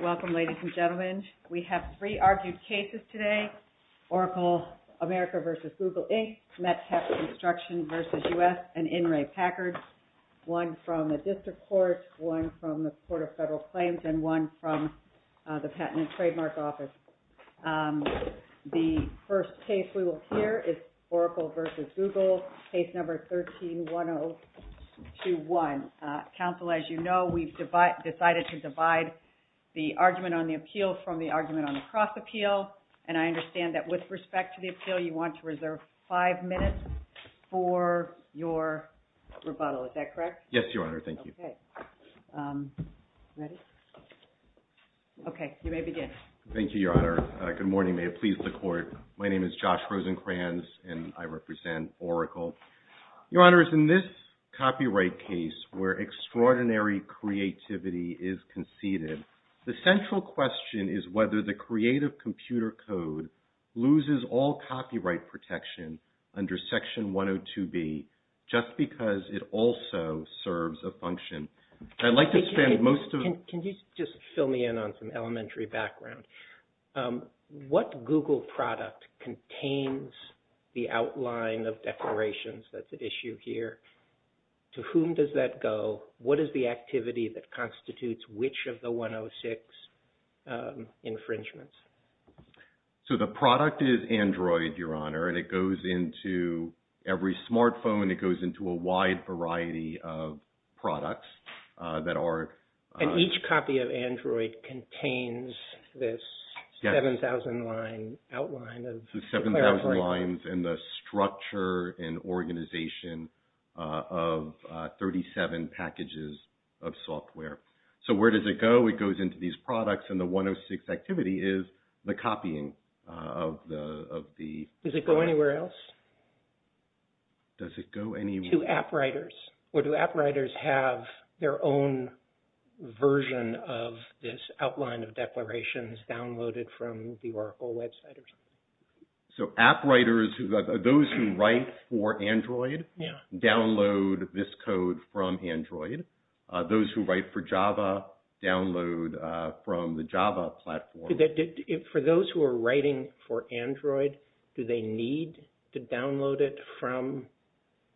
Welcome, ladies and gentlemen. We have three argued cases today, ORACLE AMERICA v. GOOGLE INC., Metcalf Construction v. U.S., and In re. Packard, one from the District Court, one from the Court of Federal Claims, and one from the Patent and Trademark Office. The first case we will hear is ORACLE v. GOOGLE, case number 13-1021. Counsel, as you know, we've decided to divide the argument on the appeal from the argument on the cross-appeal, and I understand that with respect to the appeal, you want to reserve five minutes for your rebuttal. Is that correct? Yes, Your Honor. Thank you. Okay. Ready? Okay. You may begin. Thank you, Your Honor. Good morning. May it please the Court. My name is Josh Rosenkranz, and I represent ORACLE. Your Honor, it's in this copyright case where extraordinary creativity is conceded, the central question is whether the Creative Computer Code loses all copyright protection under Section 102B just because it also serves a function. I'd like to spend most of the... Can you just fill me in on some elementary background? What Google product contains the outline of declarations that's at issue here? To whom does that go? What is the activity that constitutes which of the 106 infringements? So the product is Android, Your Honor, and it goes into every smartphone, it goes into a wide variety of products that are... Every idea of Android contains this 7,000-line outline of declarations. The 7,000 lines and the structure and organization of 37 packages of software. So where does it go? It goes into these products, and the 106 activity is the copying of the... Does it go anywhere else? Does it go anywhere else? To app writers. Or do app writers have their own version of this outline of declarations downloaded from the Oracle website? So app writers, those who write for Android, download this code from Android. Those who write for Java, download from the Java platform. For those who are writing for Android, do they need to download it from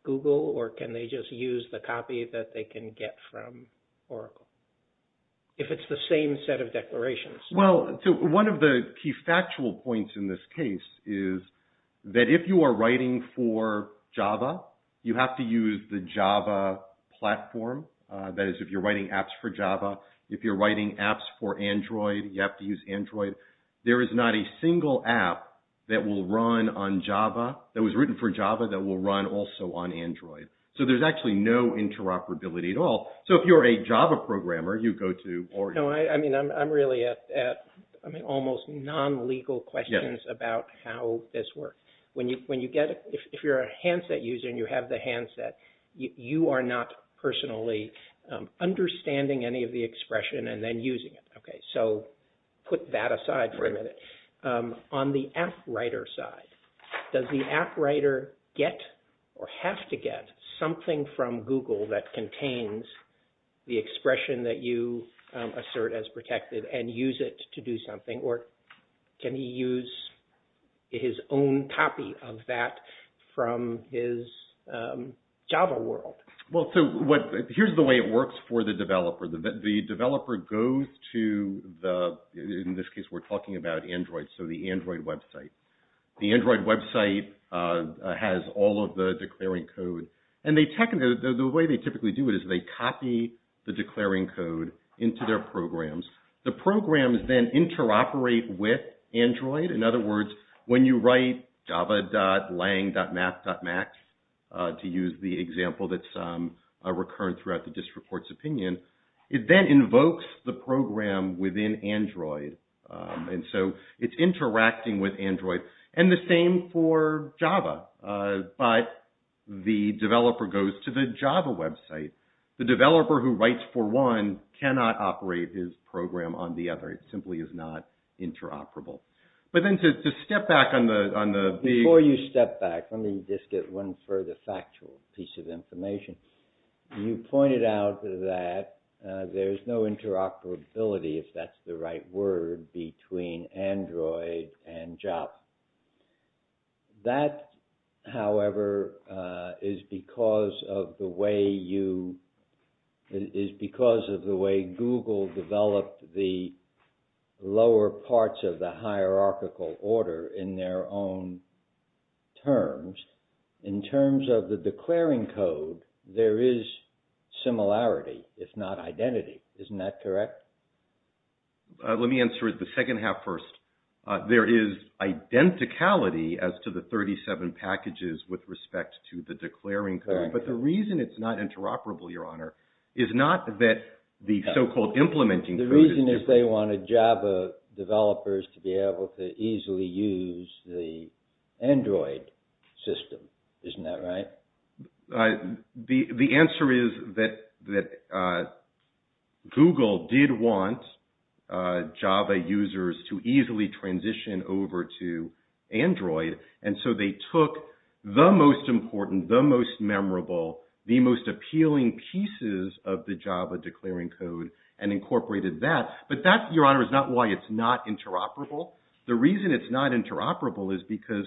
Google, or can they just use the copy that they can get from Oracle, if it's the same set of declarations? Well, so one of the key factual points in this case is that if you are writing for Java, you have to use the Java platform, that is, if you're writing apps for Java. If you're writing apps for Android, you have to use Android. There is not a single app that will run on Java, that was written for Java, that will run also on Android. So there's actually no interoperability at all. So if you're a Java programmer, you go to... No, I mean, I'm really at almost non-legal questions about how this works. When you get... If you're a handset user and you have the handset, you are not personally understanding any of the expression and then using it. So put that aside for a minute. On the app writer side, does the app writer get or have to get something from Google that contains the expression that you assert as protected and use it to do something? Or can he use his own copy of that from his Java world? Well, so here's the way it works for the developer. The developer goes to the... In this case, we're talking about Android, so the Android website. The Android website has all of the declaring code. And the way they typically do it is they copy the declaring code into their programs. The programs then interoperate with Android. In other words, when you write java.lang.mat.mat, to use the example that's recurrent throughout the district court's opinion, it then invokes the program within Android. And so it's interacting with Android. And the same for Java, but the developer goes to the Java website. The developer who writes for one cannot operate his program on the other. It simply is not interoperable. But then to step back on the... Before you step back, let me just get one further factual piece of information. You pointed out that there's no interoperability, if that's the right word, between Android and Java. That, however, is because of the way you... Is because of the way Google developed the lower parts of the hierarchical order in their own terms. In terms of the declaring code, there is similarity, if not identity. Isn't that correct? Let me answer the second half first. There is identicality as to the 37 packages with respect to the declaring code. But the reason it's not interoperable, Your Honor, is not that the so-called implementing... The reason is they wanted Java developers to be able to easily use the Android system. Isn't that right? The answer is that Google did want Java users to easily transition over to Android. And so they took the most important, the most memorable, the most appealing pieces of the declaring code and incorporated that. But that, Your Honor, is not why it's not interoperable. The reason it's not interoperable is because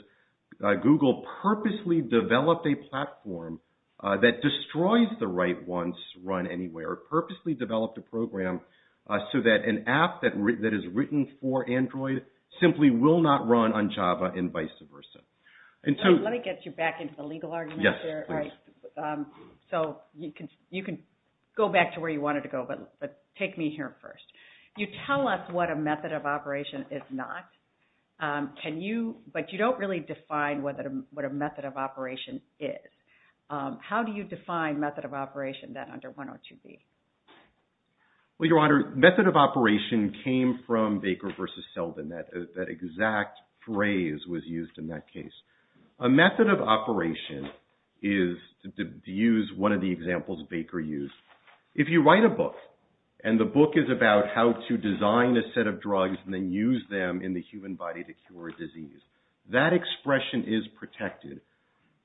Google purposely developed a platform that destroys the right ones to run anywhere. It purposely developed a program so that an app that is written for Android simply will not run on Java and vice versa. Let me get you back into the legal argument there. All right. So you can go back to where you wanted to go, but take me here first. You tell us what a method of operation is not. Can you... But you don't really define what a method of operation is. How do you define method of operation then under 102B? Well, Your Honor, method of operation came from Baker versus Selden. That exact phrase was used in that case. A method of operation is to use one of the examples Baker used. If you write a book and the book is about how to design a set of drugs and then use them in the human body to cure a disease, that expression is protected.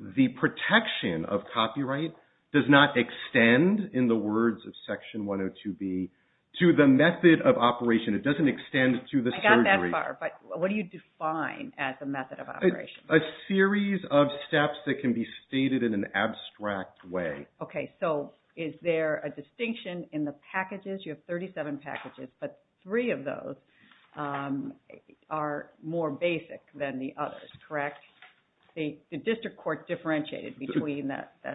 The protection of copyright does not extend, in the words of section 102B, to the method of operation. It doesn't extend to the surgery. Not that far. But what do you define as a method of operation? A series of steps that can be stated in an abstract way. Okay. So is there a distinction in the packages? You have 37 packages, but three of those are more basic than the others, correct? The district court differentiated between the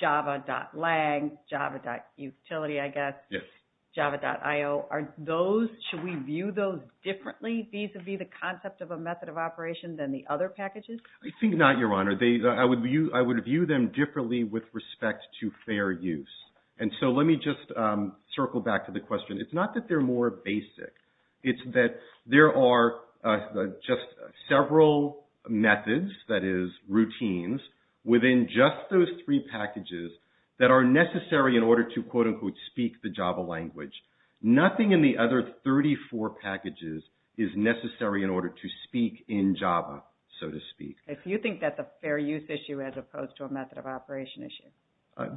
java.lang, java.utility, I guess. Yes. java.io. Are those... Should we view those differently? These would be the concept of a method of operation than the other packages? I think not, Your Honor. I would view them differently with respect to fair use. And so let me just circle back to the question. It's not that they're more basic. It's that there are just several methods, that is, routines, within just those three packages that are necessary in order to, quote, unquote, speak the java language. Nothing in the other 34 packages is necessary in order to speak in java, so to speak. If you think that's a fair use issue as opposed to a method of operation issue.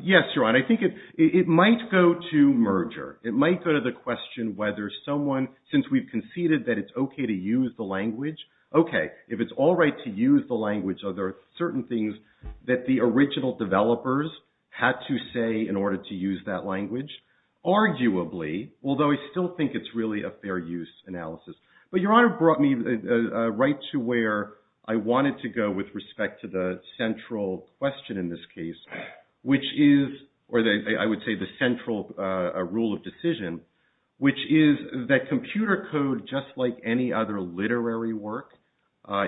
Yes, Your Honor. I think it might go to merger. It might go to the question whether someone, since we've conceded that it's okay to use the language, okay, if it's all right to use the language, are there certain things arguably, although I still think it's really a fair use analysis. But Your Honor brought me right to where I wanted to go with respect to the central question in this case, which is, or I would say the central rule of decision, which is that computer code, just like any other literary work,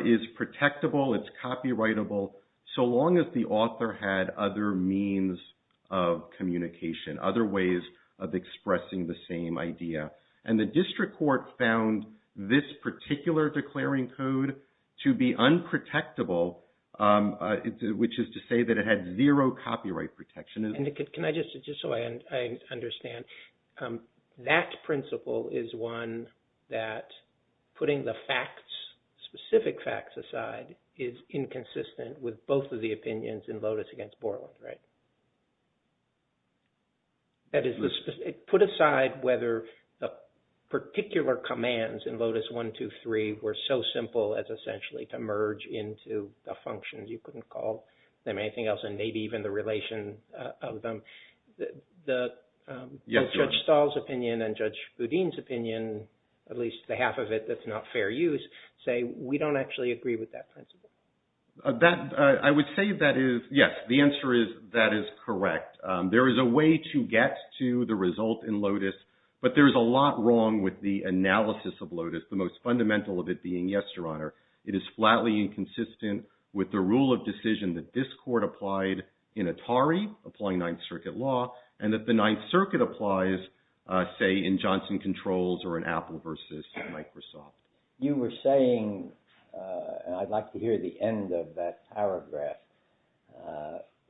is protectable, it's copyrightable, so long as the author had other means of communication, other ways of expressing the same idea. And the district court found this particular declaring code to be unprotectable, which is to say that it had zero copyright protection. And can I just, just so I understand, that principle is one that putting the facts, specific facts aside, is inconsistent with both of the opinions in Lotus against Borlaug, right? That is, put aside whether the particular commands in Lotus 1, 2, 3, were so simple as essentially to merge into a function, you couldn't call them anything else, and maybe even the relation of them, the Judge Stahl's opinion and Judge Boudin's opinion, at least the half of it that's not fair use, say we don't actually agree with that principle. I would say that is, yes, the answer is that is correct. There is a way to get to the result in Lotus, but there's a lot wrong with the analysis of Lotus, the most fundamental of it being, yes, Your Honor, it is flatly inconsistent with the rule of decision that this court applied in Atari, applying Ninth Circuit law, and that the Ninth Circuit applies, say, in Johnson Controls or in Apple versus Microsoft. You were saying, and I'd like to hear the end of that paragraph,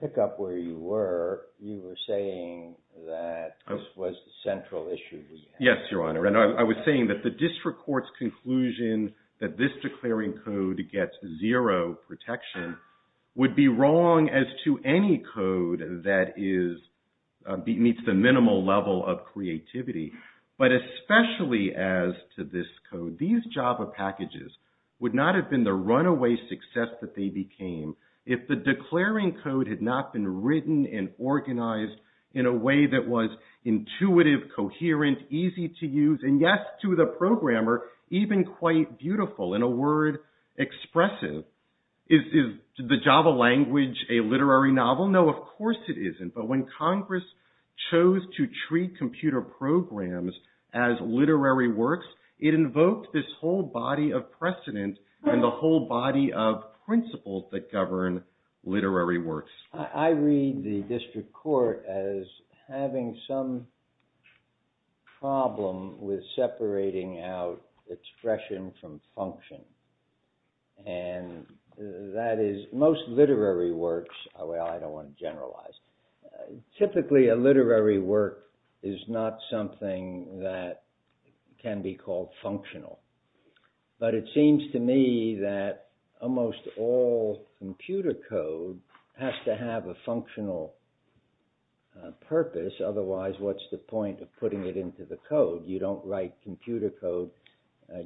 pick up where you were, you were saying that this was the central issue. Yes, Your Honor, and I was saying that the district court's conclusion that this declaring code gets zero protection would be wrong as to any code that meets the minimal level of creativity, but especially as to this code. These Java packages would not have been the runaway success that they became if the declaring code had not been written and organized in a way that was intuitive, coherent, easy to express it. Is the Java language a literary novel? No, of course it isn't, but when Congress chose to treat computer programs as literary works, it invoked this whole body of precedent and the whole body of principles that govern literary works. I read the district court as having some problem with separating out expression from function. And that is, most literary works, I don't want to generalize, typically a literary work is not something that can be called functional. But it seems to me that almost all computer code has to have a functional purpose. Otherwise, what's the point of putting it into the code? You don't write computer code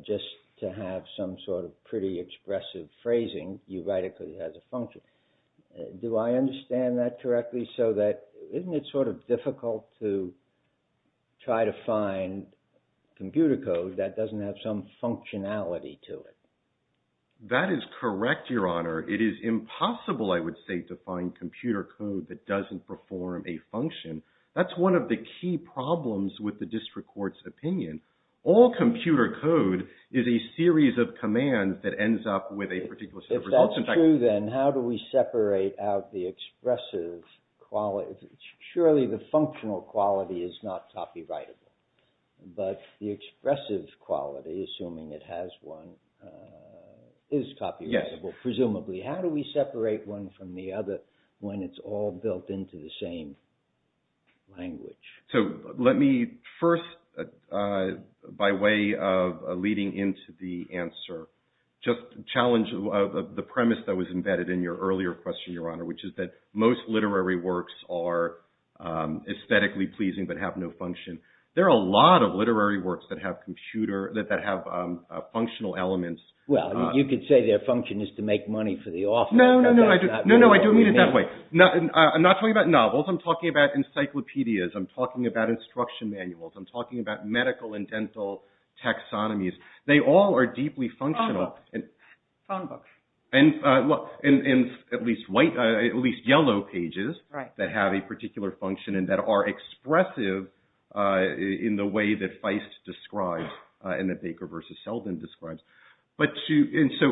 just to have some sort of pretty expressive phrasing. You write it because it has a function. Do I understand that correctly? So that, isn't it sort of difficult to try to find computer code that doesn't have some functionality to it? That is correct, Your Honor. It is impossible, I would say, to find computer code that doesn't perform a function. That's one of the key problems with the district court's opinion. All computer code is a series of commands that ends up with a particular set of results. If that's true, then how do we separate out the expressive quality? Surely the functional quality is not copyrighted, but the expressive quality, assuming it has one, is copyrighted. Presumably. How do we separate one from the other when it's all built into the same language? So let me first, by way of leading into the answer, just challenge the premise that was embedded in your earlier question, Your Honor, which is that most literary works are aesthetically pleasing but have no function. There are a lot of literary works that have functional elements. Well, you could say their function is to make money for the office. No, no, no, I do mean it that way. I'm not talking about novels. I'm talking about encyclopedias. I'm talking about instruction manuals. I'm talking about medical and dental taxonomies. They all are deeply functional. Phone books. Phone books. And at least yellow pages that have a particular function and that are expressive in the way that Feist describes and that Baker v. Selden describes. And so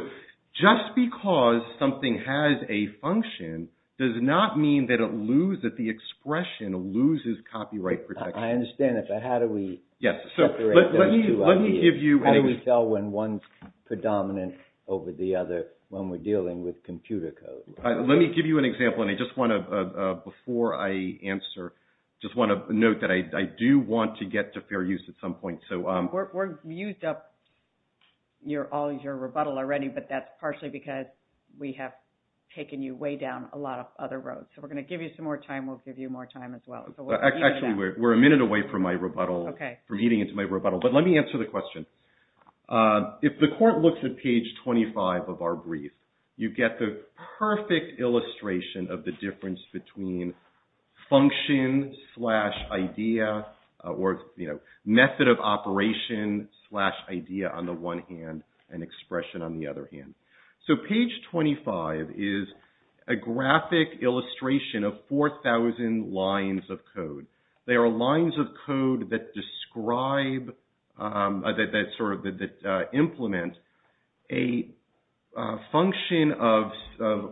just because something has a function does not mean that the expression loses copyright protection. I understand that. But how do we separate those two? How do we tell when one's predominant over the other when we're dealing with computer code? Let me give you an example. And I just want to, before I answer, just want to note that I do want to get to fair use at some point. We're used up all your rebuttal already, but that's partially because we have taken you way down a lot of other roads. So we're going to give you some more time. We'll give you more time as well. Actually, we're a minute away from my rebuttal, from getting into my rebuttal. But let me answer the question. If the court looks at page 25 of our brief, you get the perfect illustration of the difference between function slash idea or method of operation slash idea on the one hand and expression on the other hand. So page 25 is a graphic illustration of 4,000 lines of code. They are lines of code that describe, that implement a function of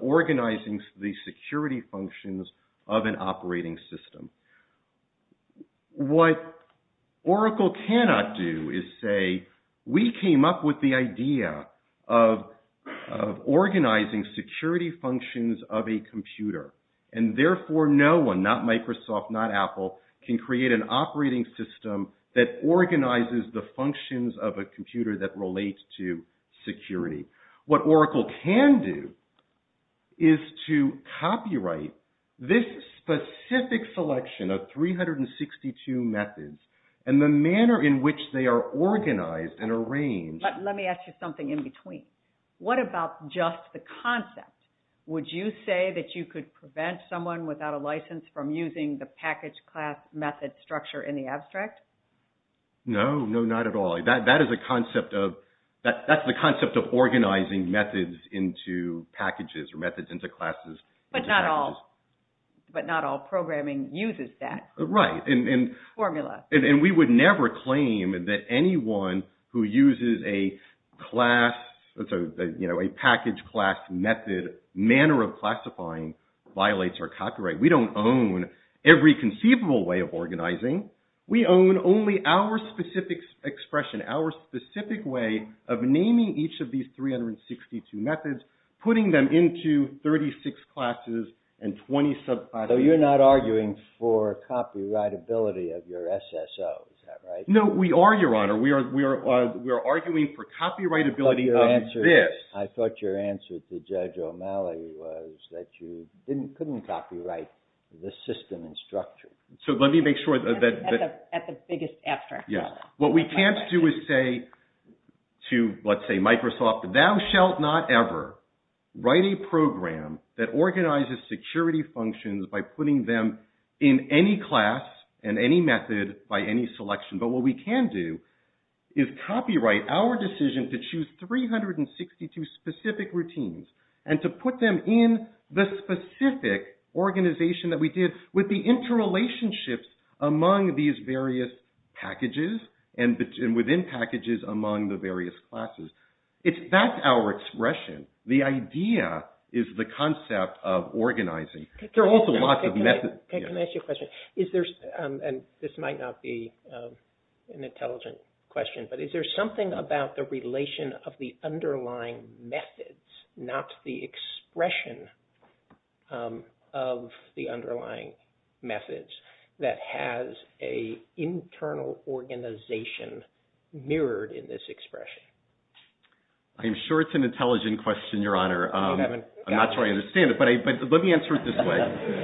organizing the security functions of an operating system. What Oracle cannot do is say, we came up with the idea of organizing security functions of a computer. And therefore, no one, not Microsoft, not Apple, can create an operating system that organizes the functions of a computer that relates to security. What Oracle can do is to copyright this specific selection of 362 methods and the manner in which they are organized and arranged. But let me ask you something in between. What about just the concept? Would you say that you could prevent someone without a license from using the package class method structure in the abstract? No, no, not at all. That is the concept of organizing methods into packages or methods into classes. But not all programming uses that formula. And we would never claim that anyone who uses a package class method manner of classifying violates our copyright. We don't own every conceivable way of organizing. We own only our specific expression, our specific way of naming each of these 362 methods, putting them into 36 classes and 20 subclasses. So you're not arguing for copyrightability of your SSO, is that right? No, we are, Your Honor. We are arguing for copyrightability of this. I thought your answer to Judge O'Malley was that you couldn't copyright the system and structure. So let me make sure that... At the biggest abstract level. Yes. What we can't do is say to, let's say, Microsoft, thou shalt not ever write a program that organizes security functions by putting them in any class and any method by any selection. But what we can do is copyright our decision to choose 362 specific routines and to put them in the specific organization that we did with the interrelationships among these various packages and within packages among the various classes. That's our expression. The idea is the concept of organizing. There are also lots of methods. Can I ask you a question? This might not be an intelligent question, but is there something about the relation of the underlying methods, not the expression of the underlying methods, that has an internal organization mirrored in this expression? I'm sure it's an intelligent question, Your Honor. I'm not sure I understand it, but let me answer it this way.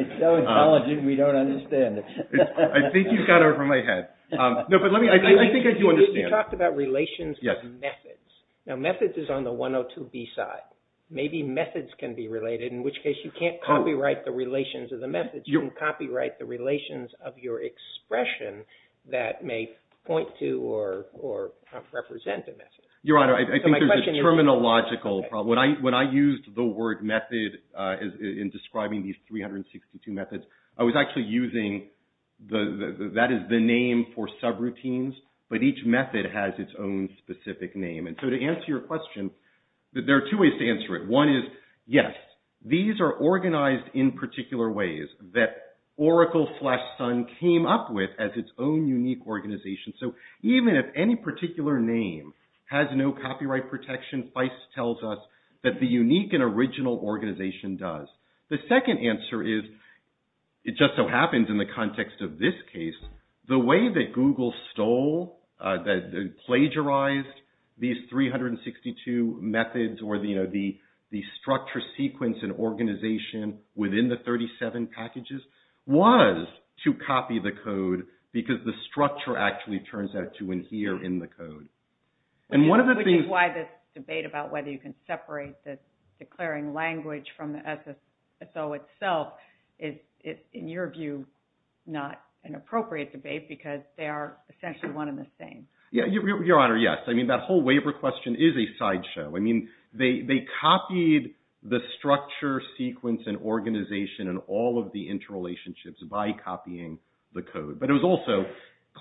It's so intelligent, we don't understand it. I think he's got it over my head. I think I do understand. You talked about relations and methods. Now, methods is on the 102B side. Maybe methods can be related, in which case you can't copyright the relations of the methods. You can copyright the relations of your expression that may point to or represent the method. Your Honor, I think there's a terminological problem. When I used the word method in describing these 362 methods, I was actually using the, that is the name for subroutines. But each method has its own specific name. And so to answer your question, there are two ways to answer it. One is, yes, these are organized in particular ways that Oracle slash Sun came up with as its own unique organization. So even if any particular name has no copyright protection, Feist tells us that the unique and original organization does. The second answer is, it just so happens in the context of this case, the way that Google stole, plagiarized these 362 methods or the structure, sequence, and organization within the 37 packages was to copy the code because the structure actually turns out to adhere in the code. And one of the things- Which is why this debate about whether you can separate this declaring language from the SSO itself is, in your view, not an appropriate debate because they are essentially one and the same. Yeah, Your Honor, yes. I mean, that whole waiver question is a sideshow. I mean, they copied the structure, sequence, and organization, and all of the interrelationships by copying the code. But it was also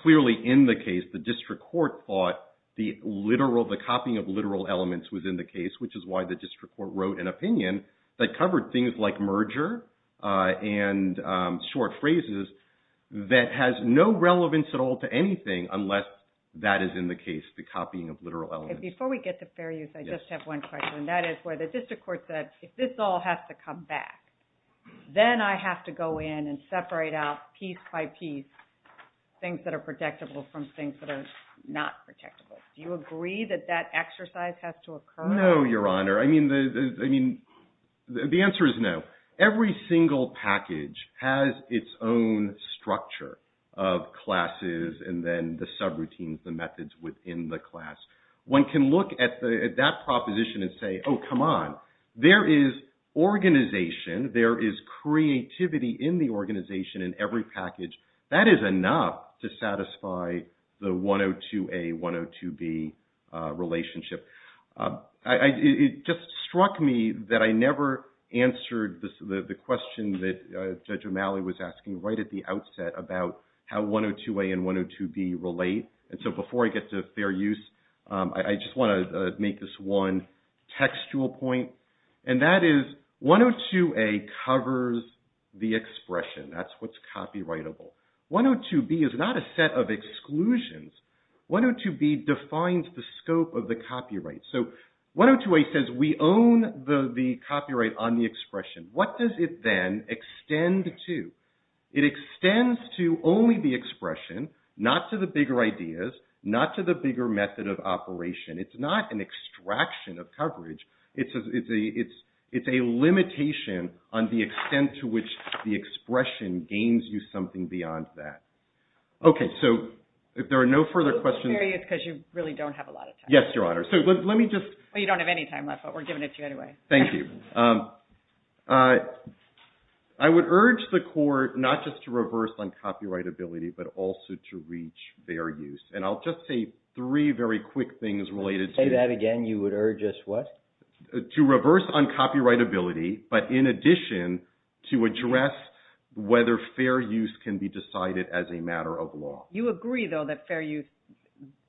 clearly in the case, the district court thought the literal, the copying of literal elements within the case, which is why the district court wrote an opinion that covered things like merger and short phrases that has no relevance at all to anything unless that is in the case, the copying of literal elements. Before we get to fair use, I just have one question. That is where the district court said, if this all has to come back, then I have to go in and separate out piece by piece things that are protectable from things that are not protectable. Do you agree that that exercise has to occur? No, Your Honor. I mean, the answer is no. Every single package has its own structure of classes and then the subroutines, the methods within the class. One can look at that proposition and say, oh, come on. There is organization. There is creativity in the organization in every package. That is enough to satisfy the 102A, 102B relationship. It just struck me that I never answered the question that Judge O'Malley was asking right at the outset about how 102A and 102B relate. And so before I get to fair use, I just want to make this one textual point. And that is 102A covers the expression. That's what's copyrightable. 102B is not a set of exclusions. 102B defines the scope of the copyright. So 102A says we own the copyright on the expression. What does it then extend to? It extends to only the expression, not to the bigger ideas, not to the bigger method of operation. It's not an extraction of coverage. It's a limitation on the extent to which the expression gains you something beyond that. Okay, so if there are no further questions. It's because you really don't have a lot of time. Yes, Your Honor. So let me just... Well, you don't have any time left, but we're giving it to you anyway. Thank you. I would urge the court not just to reverse on copyrightability, but also to reach fair use. And I'll just say three very quick things related to... To reverse on copyrightability, but in addition, to address whether fair use can be decided as a matter of law. You agree, though, that fair use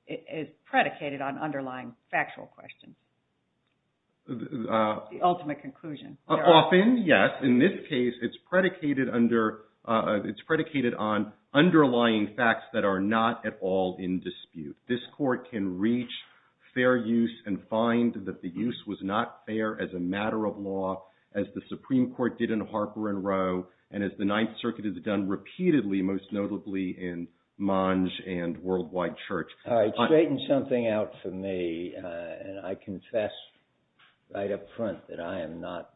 is predicated on underlying factual questions. The ultimate conclusion. Often, yes. In this case, it's predicated under... It's predicated on underlying facts that are not at all in dispute. This court can reach fair use and find that the use was not fair as a matter of law, as the Supreme Court did in Harper and Rowe, and as the Ninth Circuit has done repeatedly, most notably in Monge and Worldwide Church. All right, straighten something out for me. I confess right up front that I am not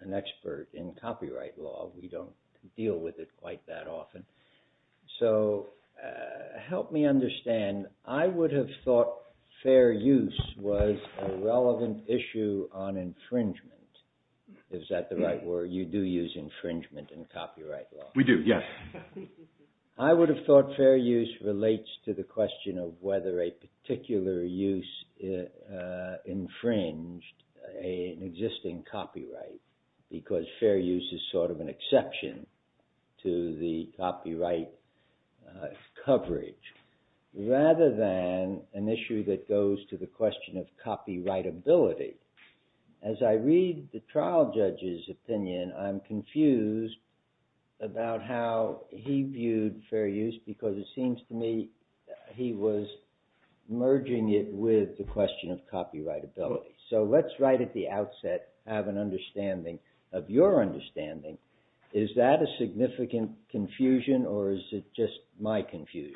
an expert in copyright law. We don't deal with it quite that often. So help me understand. I would have thought fair use was a relevant issue on infringement. Is that the right word? You do use infringement in copyright law. We do, yes. I would have thought fair use relates to the question of whether a particular use infringed an existing copyright, because fair use is sort of an exception to the copyright coverage, rather than an issue that goes to the question of copyrightability. As I read the trial judge's opinion, I'm confused about how he viewed fair use, because it seems to me he was merging it with the question of copyrightability. So let's, right at the outset, have an understanding of your understanding. Is that a significant confusion, or is it just my confusion?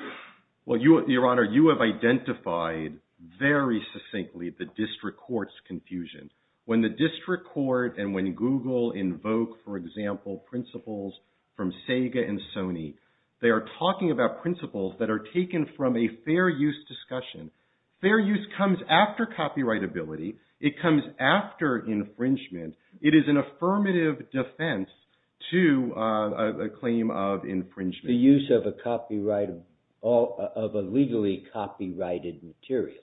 Well, Your Honor, you have identified very succinctly the district court's confusion. When the district court and when Google invoke, for example, principles from Sega and Sony, they are talking about principles that are taken from a fair use discussion. Fair use comes after copyrightability. It comes after infringement. It is an affirmative defense to a claim of infringement. The use of a copyright, of a legally copyrighted material.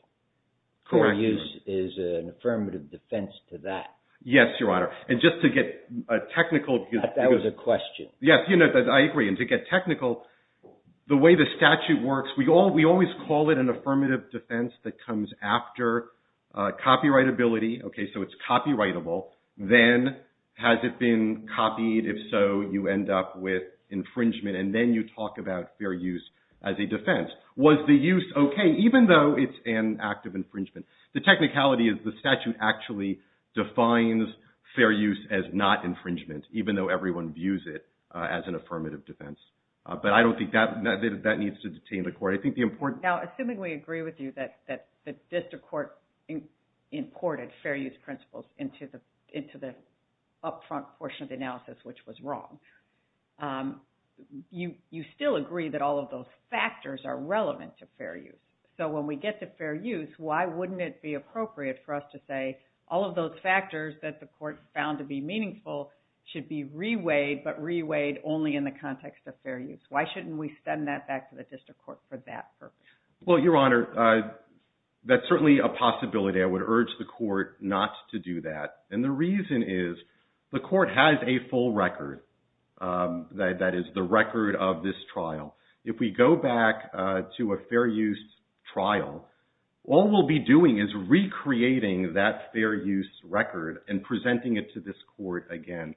Correct. Fair use is an affirmative defense to that. Yes, Your Honor. And just to get a technical... That was a question. Yes, you know, I agree. And to get technical, the way the statute works, we always call it an affirmative defense that comes after copyrightability. Okay, so it's copyrightable. Then has it been copied? If so, you end up with infringement, and then you talk about fair use as a defense. Was the use okay, even though it's an act of infringement? The technicality is the statute actually defines fair use as not infringement, even though everyone views it as an affirmative defense. But I don't think that needs to detain the court. I think the important... Now, assuming we agree with you that the District Court imported fair use principles into the upfront portion of the analysis, which was wrong. You still agree that all of those factors are relevant to fair use. So when we get to fair use, why wouldn't it be appropriate for us to say all of those factors that the court found to be meaningful should be reweighed, but reweighed only in the context of fair use? Why shouldn't we send that back to the District Court for that purpose? Well, Your Honor, that's certainly a possibility. I would urge the court not to do that. And the reason is the court has a full record that is the record of this trial. If we go back to a fair use trial, all we'll be doing is recreating that fair use record and presenting it to this court again.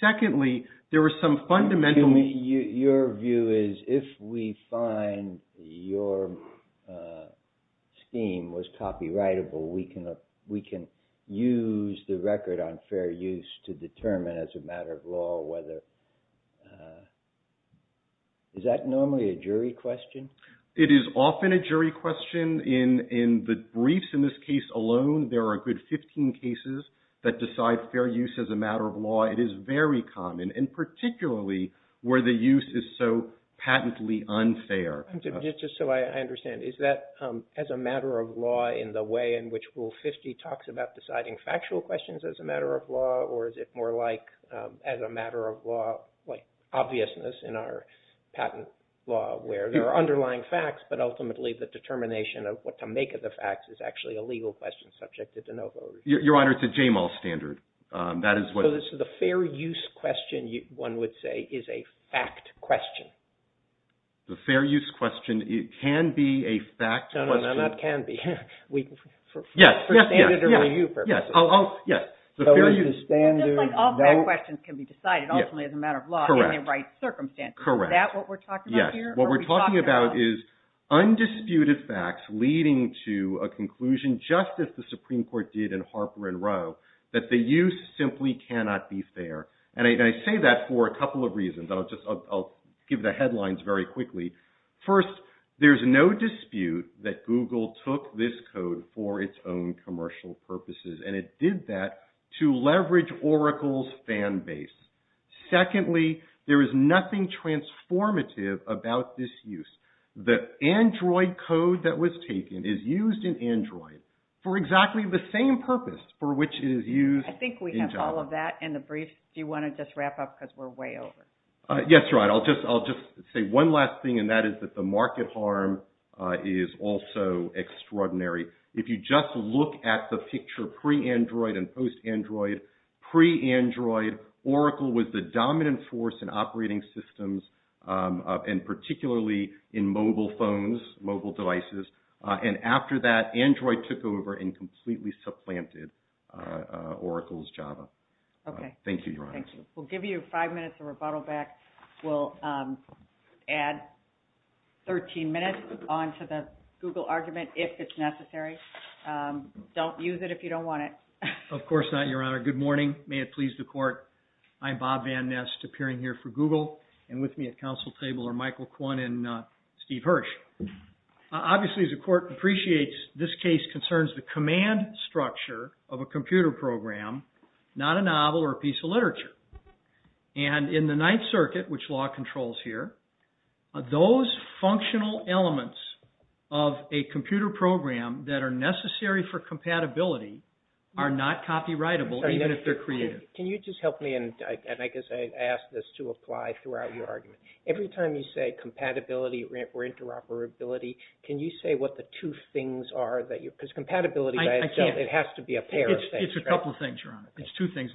Secondly, there are some fundamental... Excuse me. Your view is if we find your scheme was copyrightable, we can use the record on fair use to determine as a matter of law whether... Is that normally a jury question? It is often a jury question. In the briefs in this case alone, there are a good 15 cases. That decides fair use as a matter of law. It is very common, and particularly where the use is so patently unfair. Just so I understand, is that as a matter of law in the way in which Rule 50 talks about deciding factual questions as a matter of law, or is it more like as a matter of law, like obviousness in our patent law where there are underlying facts, but ultimately the determination of what to make of the facts is actually a legal question subjected to no... Your Honor, it's a JMAL standard. That is what... So the fair use question, one would say, is a fact question. The fair use question, it can be a fact question. No, no, no, no, it can be. Yes, yes, yes, yes, yes. I'll... Yes, the fair use... So it's a standard... All questions can be decided ultimately as a matter of law in the right circumstances. Correct. Is that what we're talking about here? What we're talking about is undisputed facts leading to a conclusion, just as the Supreme Court did in Harper and Rowe, that the use simply cannot be fair. And I say that for a couple of reasons. I'll just... I'll give the headlines very quickly. First, there's no dispute that Google took this code for its own commercial purposes, and it did that to leverage Oracle's fan base. Secondly, there is nothing transformative about this use. The Android code that was taken is used in Android for exactly the same purpose for which it is used in Java. I think we have all of that in the brief. Do you want to just wrap up because we're way over? Yes, right. I'll just say one last thing, and that is that the market harm is also extraordinary. If you just look at the picture pre-Android and post-Android, pre-Android, Oracle was the dominant force in operating systems and particularly in mobile phones, mobile devices. And after that, Android took over and completely supplanted Oracle's Java. Thank you, Your Honor. Thank you. We'll give you five minutes of rebuttal back. We'll add 13 minutes onto the Google argument if it's necessary. Don't use it if you don't want it. Of course not, Your Honor. Good morning. May it please the court. I'm Bob Van Nest, appearing here for Google and with me at counsel table are Michael Kwon and Steve Hirsch. Obviously, as the court appreciates, this case concerns the command structure of a computer program, not a novel or a piece of literature. And in the Ninth Circuit, which law controls here, those functional elements of a computer program that are necessary for compatibility are not copyrightable even if they're created. Can you just help me? And I guess I ask this to apply throughout your argument. Every time you say compatibility or interoperability, can you say what the two things are? Because compatibility, it has to be a pair of things. It's a couple of things, Your Honor. It's two things.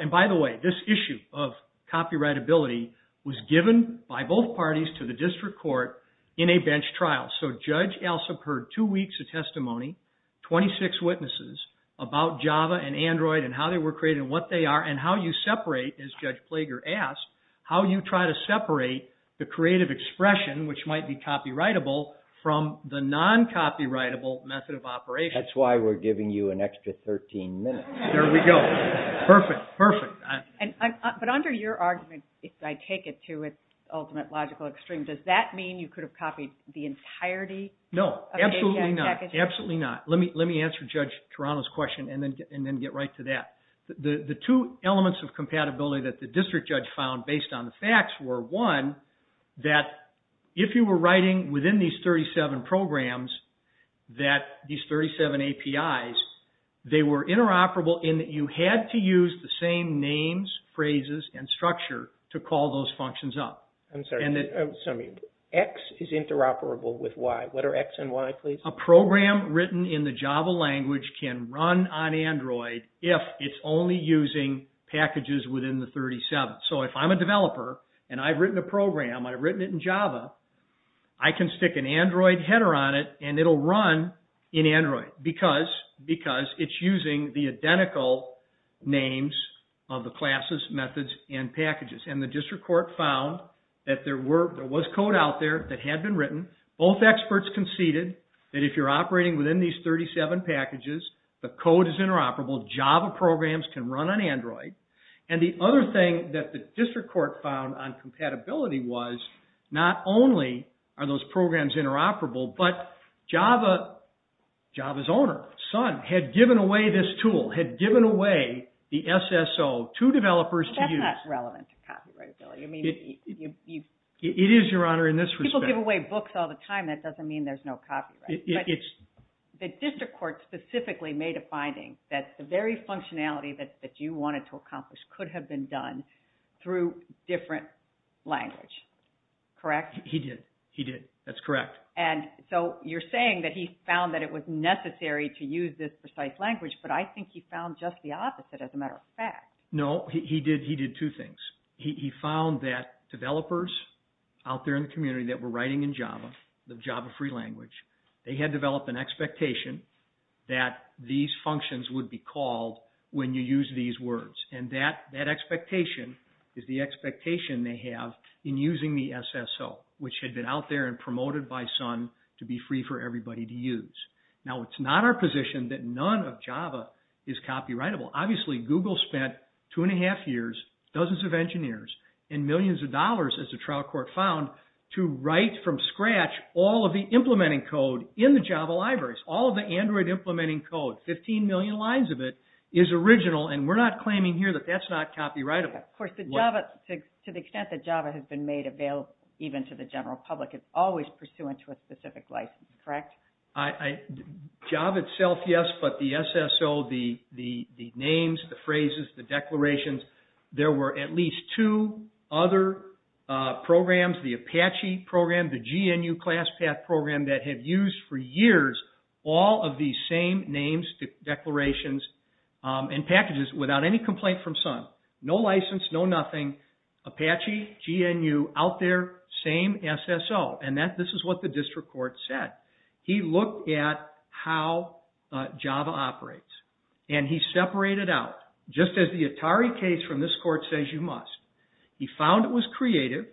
And by the way, this issue of copyrightability was given by both parties to the district court in a bench trial. So Judge Alsop heard two weeks of testimony, 26 witnesses about Java and Android and how they were created, what they are, and how you separate, as Judge Plager asked, how you try to separate the creative expression, which might be copyrightable, from the non-copyrightable method of operation. That's why we're giving you an extra 13 minutes. There we go. Perfect, perfect. But under your argument, if I take it to its ultimate logical extreme, does that mean you could have copied the entirety? No, absolutely not. Absolutely not. Let me answer Judge Toronto's question and then get right to that. The two elements of compatibility that the district judge found based on the facts were, one, that if you were writing within these 37 programs, that these 37 APIs, they were interoperable in that you had to use the same names, phrases, and structure to call those functions up. I'm sorry. X is interoperable with Y. What are X and Y, please? A program written in the Java language can run on Android if it's only using packages within the 37. So if I'm a developer, and I've written a program, I've written it in Java, I can stick an Android header on it, and it'll run in Android because it's using the identical names of the classes, methods, and packages. And the district court found that there was code out there that had been written. Both experts conceded that if you're operating within these 37 packages, the code is interoperable. Java programs can run on Android. And the other thing that the district court found on compatibility was, not only are those programs interoperable, but Java's owner, Sun, had given away this tool, had given away the SSO to developers to use. That's not relevant to copywritability. I mean, you've... It is, Your Honor, in this respect. People give away books all the time. That doesn't mean there's no copyright. But the district court specifically made a finding that the very functionality that you wanted to accomplish could have been done through different language, correct? He did. He did. That's correct. And so you're saying that he found that it was necessary to use this precise language, but I think he found just the opposite, as a matter of fact. No, he did two things. He found that developers out there in the community that were writing in Java, the Java free language, they had developed an expectation that these functions would be called when you use these words. And that expectation is the expectation they have in using the SSO, which had been out there and promoted by Sun to be free for everybody to use. Now, it's not our position that none of Java is copyrightable. Obviously, Google spent two and a half years, dozens of engineers, and millions of dollars, as the trial court found, to write from scratch all of the implementing code in the Java libraries. All of the Android implementing code, 15 million lines of it, is original. And we're not claiming here that that's not copyrightable. Of course, to the extent that Java has been made available even to the general public, it's always pursuant to a specific license, correct? Java itself, yes, but the SSO, the names, the phrases, the declarations, there were at least two other programs, the Apache program, the GNU class path program, that had used for years all of these same names, declarations, and packages without any complaint from Sun. No license, no nothing. Apache, GNU, out there, same SSO. And this is what the district court said. He looked at how Java operates, and he separated out, just as the Atari case from this court says you must, he found it was creative,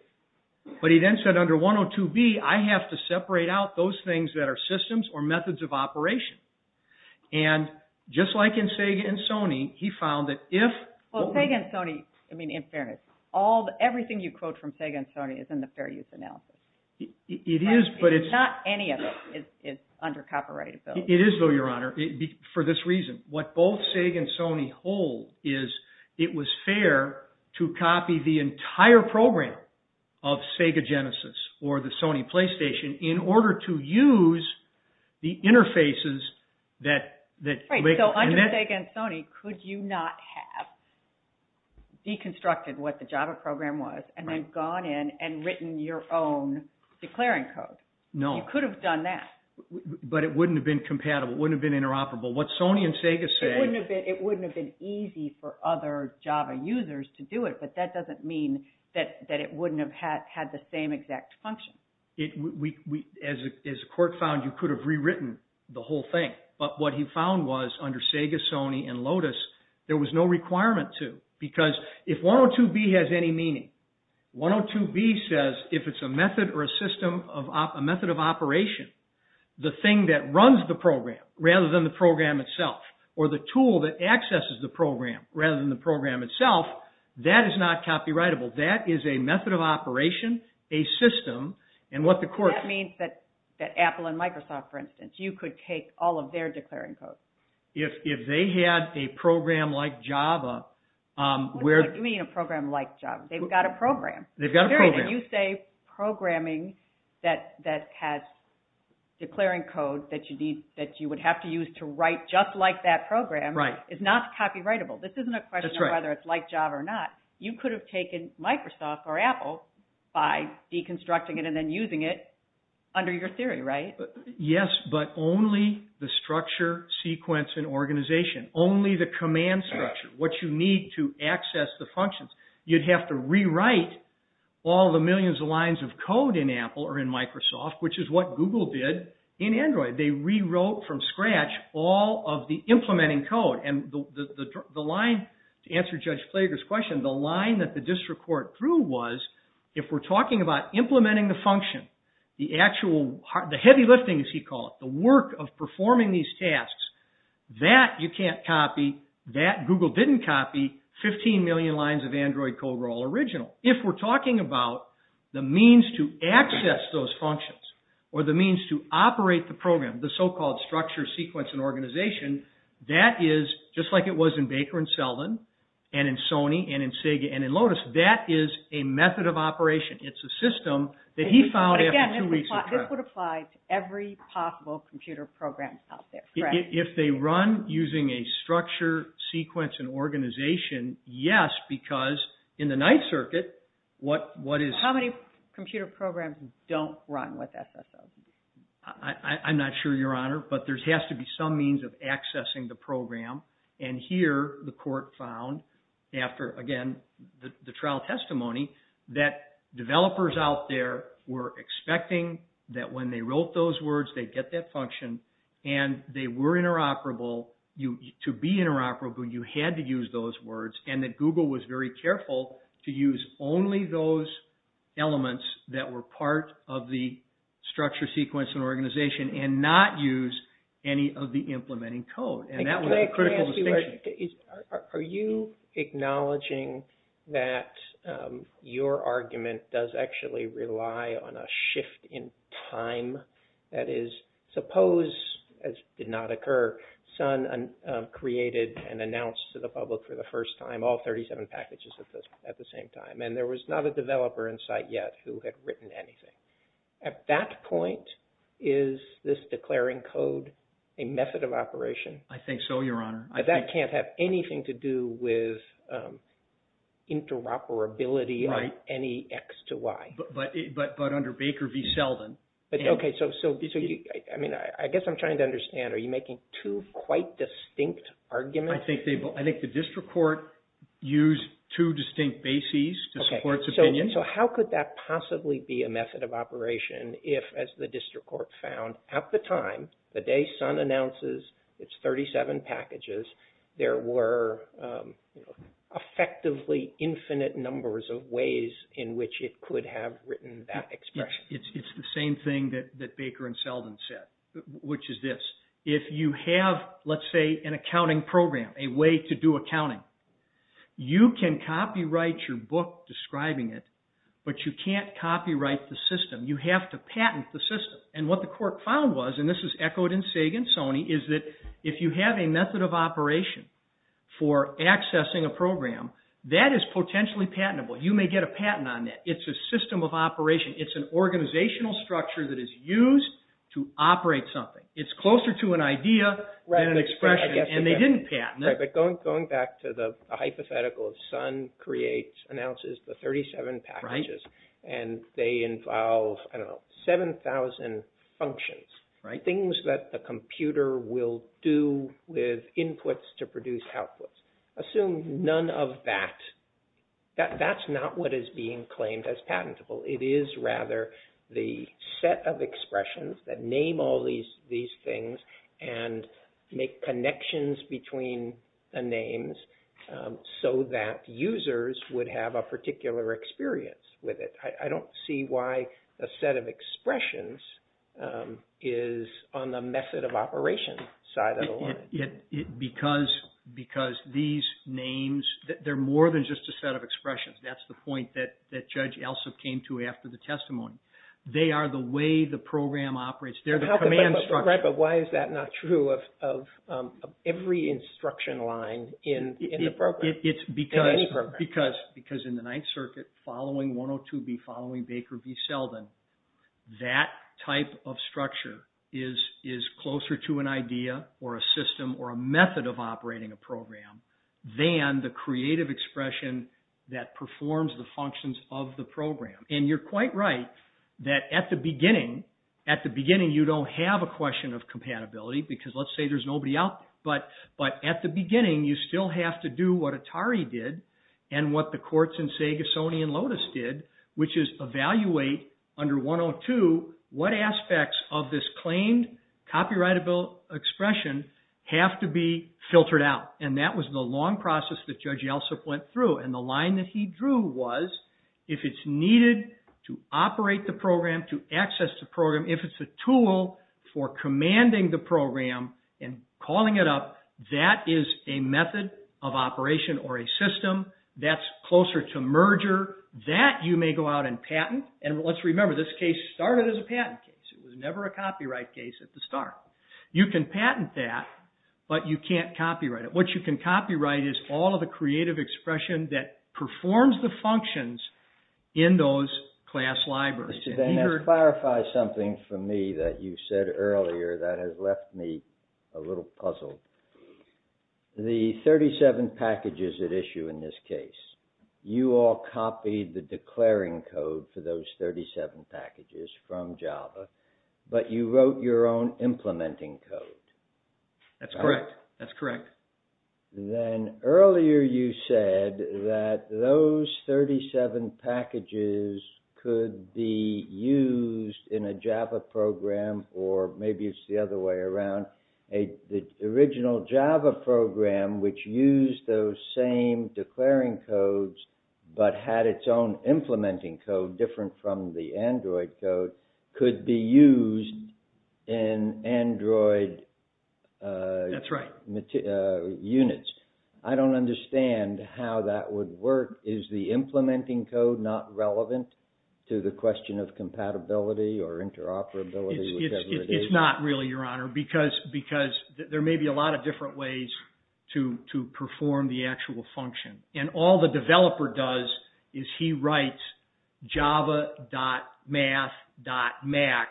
but he then said, under 102B, I have to separate out those things that are systems or methods of operation. And just like in SEGA and Sony, he found that if... Well, SEGA and Sony, I mean, in fairness, everything you quote from SEGA and Sony is in the fair use analysis. It is, but it's... Not any of it is under copyrighted, though. It is, though, Your Honor, for this reason. What both SEGA and Sony hold is it was fair to copy the entire program of SEGA Genesis or the Sony PlayStation in order to use the interfaces that... Right, so under SEGA and Sony, could you not have deconstructed what the Java program was and then gone in and written your own declaring code? No. You could have done that. But it wouldn't have been compatible, wouldn't have been interoperable. What Sony and SEGA say... It wouldn't have been easy for other Java users to do it, but that doesn't mean that it wouldn't have had the same exact function. As the court found, you could have rewritten the whole thing, but what he found was under SEGA, Sony, and Lotus, there was no requirement to, because if 102B has any meaning, 102B says if it's a method or a system of... A method of operation, the thing that runs the program rather than the program itself or the tool that accesses the program rather than the program itself, that is not copyrightable. That is a method of operation, a system, and what the court... That means that Apple and Microsoft, for instance, you could take all of their declaring codes. If they had a program like Java, where... What do you mean a program like Java? They've got a program. They've got a program. You say programming that has declaring codes that you would have to use to write just like that program is not copyrightable. This isn't a question of whether it's like Java or not. You could have taken Microsoft or Apple by deconstructing it and then using it under your theory, right? Yes, but only the structure, sequence, and organization, only the command structure, what you need to access the functions. You'd have to rewrite all the millions of lines of code in Apple or in Microsoft, which is what Google did in Android. They rewrote from scratch all of the implementing code and the line, to answer Judge Flager's question, the line that the district court drew was, if we're talking about implementing the function, the actual... The heavy lifting, as he called it, the work of performing these tasks, that you can't copy 15 million lines of Android code were all original. If we're talking about the means to access those functions or the means to operate the program, the so-called structure, sequence, and organization, that is just like it was in Baker and Selden and in Sony and in Sega and in Lotus. That is a method of operation. It's a system that he found after two weeks of trial. This would apply to every possible computer program out there, correct? If they run using a structure, sequence, and organization, yes, because in the Ninth Circuit, what is... How many computer programs don't run with SSO? I'm not sure, Your Honor, but there has to be some means of accessing the program. Here, the court found, after, again, the trial testimony, that developers out there were interoperable. To be interoperable, you had to use those words, and that Google was very careful to use only those elements that were part of the structure, sequence, and organization, and not use any of the implementing code, and that was a critical distinction. Can I ask you a question? Are you acknowledging that your argument does actually rely on a shift in time? That is, suppose, as did not occur, Sun created and announced to the public for the first time all 37 packages at the same time, and there was not a developer in sight yet who had written anything. At that point, is this declaring code a method of operation? I think so, Your Honor. But that can't have anything to do with interoperability of any X to Y. But under Baker v. Selden... Okay, so I guess I'm trying to understand. Are you making two quite distinct arguments? I think the district court used two distinct bases to support its opinion. So how could that possibly be a method of operation if, as the district court found, at the time, the day Sun announces its 37 packages, there were effectively infinite numbers of ways in which it could have written that expression? It's the same thing that Baker and Selden said, which is this. If you have, let's say, an accounting program, a way to do accounting, you can copyright your book describing it, but you can't copyright the system. You have to patent the system. And what the court found was, and this is echoed in Sagan-Soni, is that if you have a method of operation for accessing a program, that is potentially patentable. You may get a patent on that. It's a system of operation. It's an organizational structure that is used to operate something. It's closer to an idea than an expression, and they didn't patent it. Right, but going back to the hypothetical of Sun announces the 37 packages, and they involve 7,000 functions, things that the computer will do with inputs to produce outputs. Assume none of that. That's not what is being claimed as patentable. It is, rather, the set of expressions that name all these things and make connections between the names so that users would have a particular experience with it. I don't see why a set of expressions is on the method of operation side of the law. Because these names, they're more than just a set of expressions. That's the point that Judge Alsop came to after the testimony. They are the way the program operates. They're the command structure. But why is that not true of every instruction line in the program? It's because in the Ninth Circuit, following 102B, following Baker v. Selden, that type of structure is closer to an idea or a system or a method of operating a program than the forms, the functions of the program. And you're quite right that at the beginning, at the beginning, you don't have a question of compatibility, because let's say there's nobody out there. But at the beginning, you still have to do what Atari did and what the courts in, say, Gascony and Lotus did, which is evaluate under 102 what aspects of this claimed copyrightable expression have to be filtered out. And that was the long process that Judge Alsop went through. And the line that he drew was, if it's needed to operate the program, to access the program, if it's a tool for commanding the program and calling it up, that is a method of operation or a system that's closer to merger, that you may go out and patent. And let's remember, this case started as a patent case. It was never a copyright case at the start. You can patent that, but you can't copyright it. What you can copyright is all of the creative expression that performs the functions in those class libraries. And that clarifies something for me that you said earlier that has left me a little puzzled. The 37 packages at issue in this case, you all copied the declaring code for those 37 packages from Java, but you wrote your own implementing code. That's correct. That's correct. Then earlier you said that those 37 packages could be used in a Java program, or maybe it's the other way around. The original Java program, which used those same declaring codes, but had its own implementing code different from the Android code, could be used in Android units. I don't understand how that would work. Is the implementing code not relevant to the question of compatibility or interoperability? It's not really, Your Honor, because there may be a lot of different ways to perform the actual function. And all the developer does is he writes java.math.max,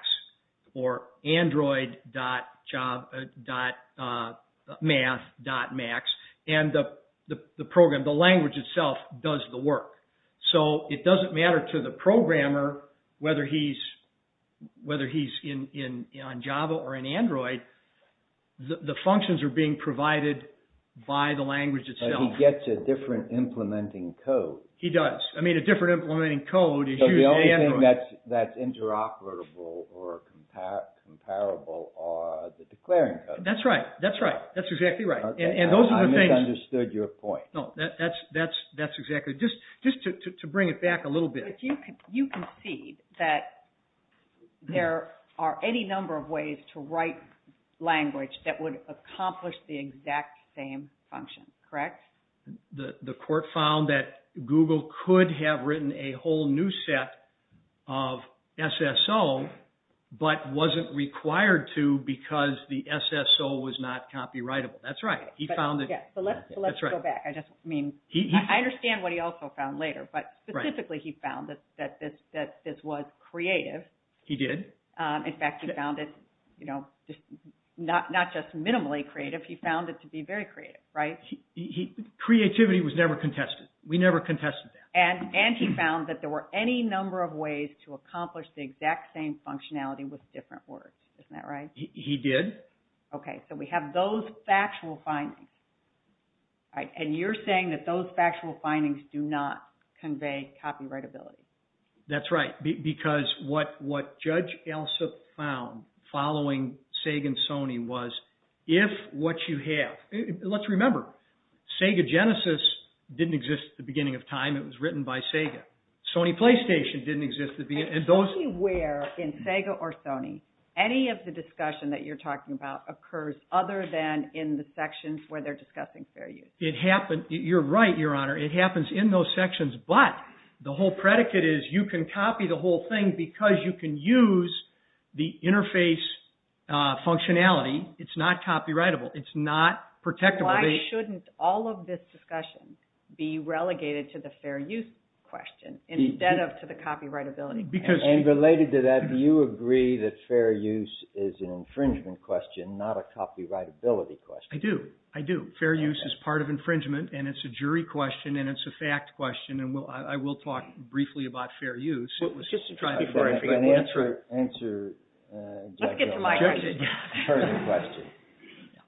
or android.math.max, and the program, the language itself, does the work. So it doesn't matter to the programmer whether he's on Java or in Android, the functions are being provided by the language itself. He gets a different implementing code. He does. I mean, a different implementing code is used in Android. So the only thing that's interoperable or comparable are the declaring codes. That's right. That's right. That's exactly right. And those are the things... I misunderstood your point. No, that's exactly... Just to bring it back a little bit. You can see that there are any number of ways to write language that would accomplish the exact same function, correct? The court found that Google could have written a whole new set of SSO, but wasn't required to because the SSO was not copyrightable. That's right. He found that... Yeah, so let's go back. I just mean, I understand what he also found later, but specifically he found that this was creative. He did. In fact, he found it not just minimally creative, he found it to be very creative, right? Creativity was never contested. We never contested that. And he found that there were any number of ways to accomplish the exact same functionality with different words. Isn't that right? He did. Okay. So we have those factual findings, right? And you're saying that those factual findings do not convey copyrightability. That's right. Because what Judge Elsop found following Sega and Sony was if what you have... Let's remember, Sega Genesis didn't exist at the beginning of time. It was written by Sega. Sony PlayStation didn't exist at the beginning. And those... Anywhere in Sega or Sony, any of the discussion that you're talking about occurs other than in the sections where they're discussing fair use. It happened... You're right, Your Honor. It happens in those sections, but the whole predicate is you can copy the whole thing because you can use the interface functionality. It's not copyrightable. It's not protectable. Why shouldn't all of this discussion be relegated to the fair use question instead of to the copyrightability question? And related to that, do you agree that fair use is an infringement question, not a copyrightability question? I do. I do. Fair use is part of infringement, and it's a jury question, and it's a fact question. And I will talk briefly about fair use. So let's just try to be fair and free. And answer Judge Elsop's jury question.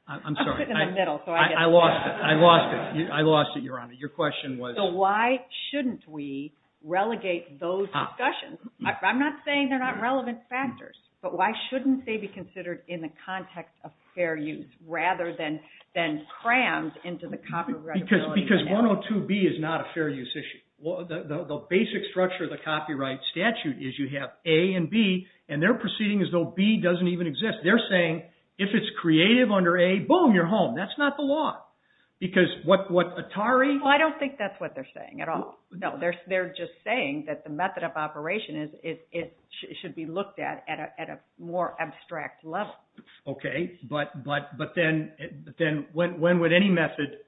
I'm sorry. I put it in the middle, so I get it. I lost it. I lost it. I lost it, Your Honor. Your question was... So why shouldn't we relegate those discussions? I'm not saying they're not relevant factors, but why shouldn't they be considered in the context of fair use rather than crammed into the copyright... Because 102B is not a fair use issue. The basic structure of the copyright statute is you have A and B, and they're proceeding as though B doesn't even exist. They're saying if it's creative under A, boom, you're home. That's not the law. Because what Atari... I don't think that's what they're saying at all. No, they're just saying that the method of operation should be looked at at a more abstract level. Okay. But then when would any method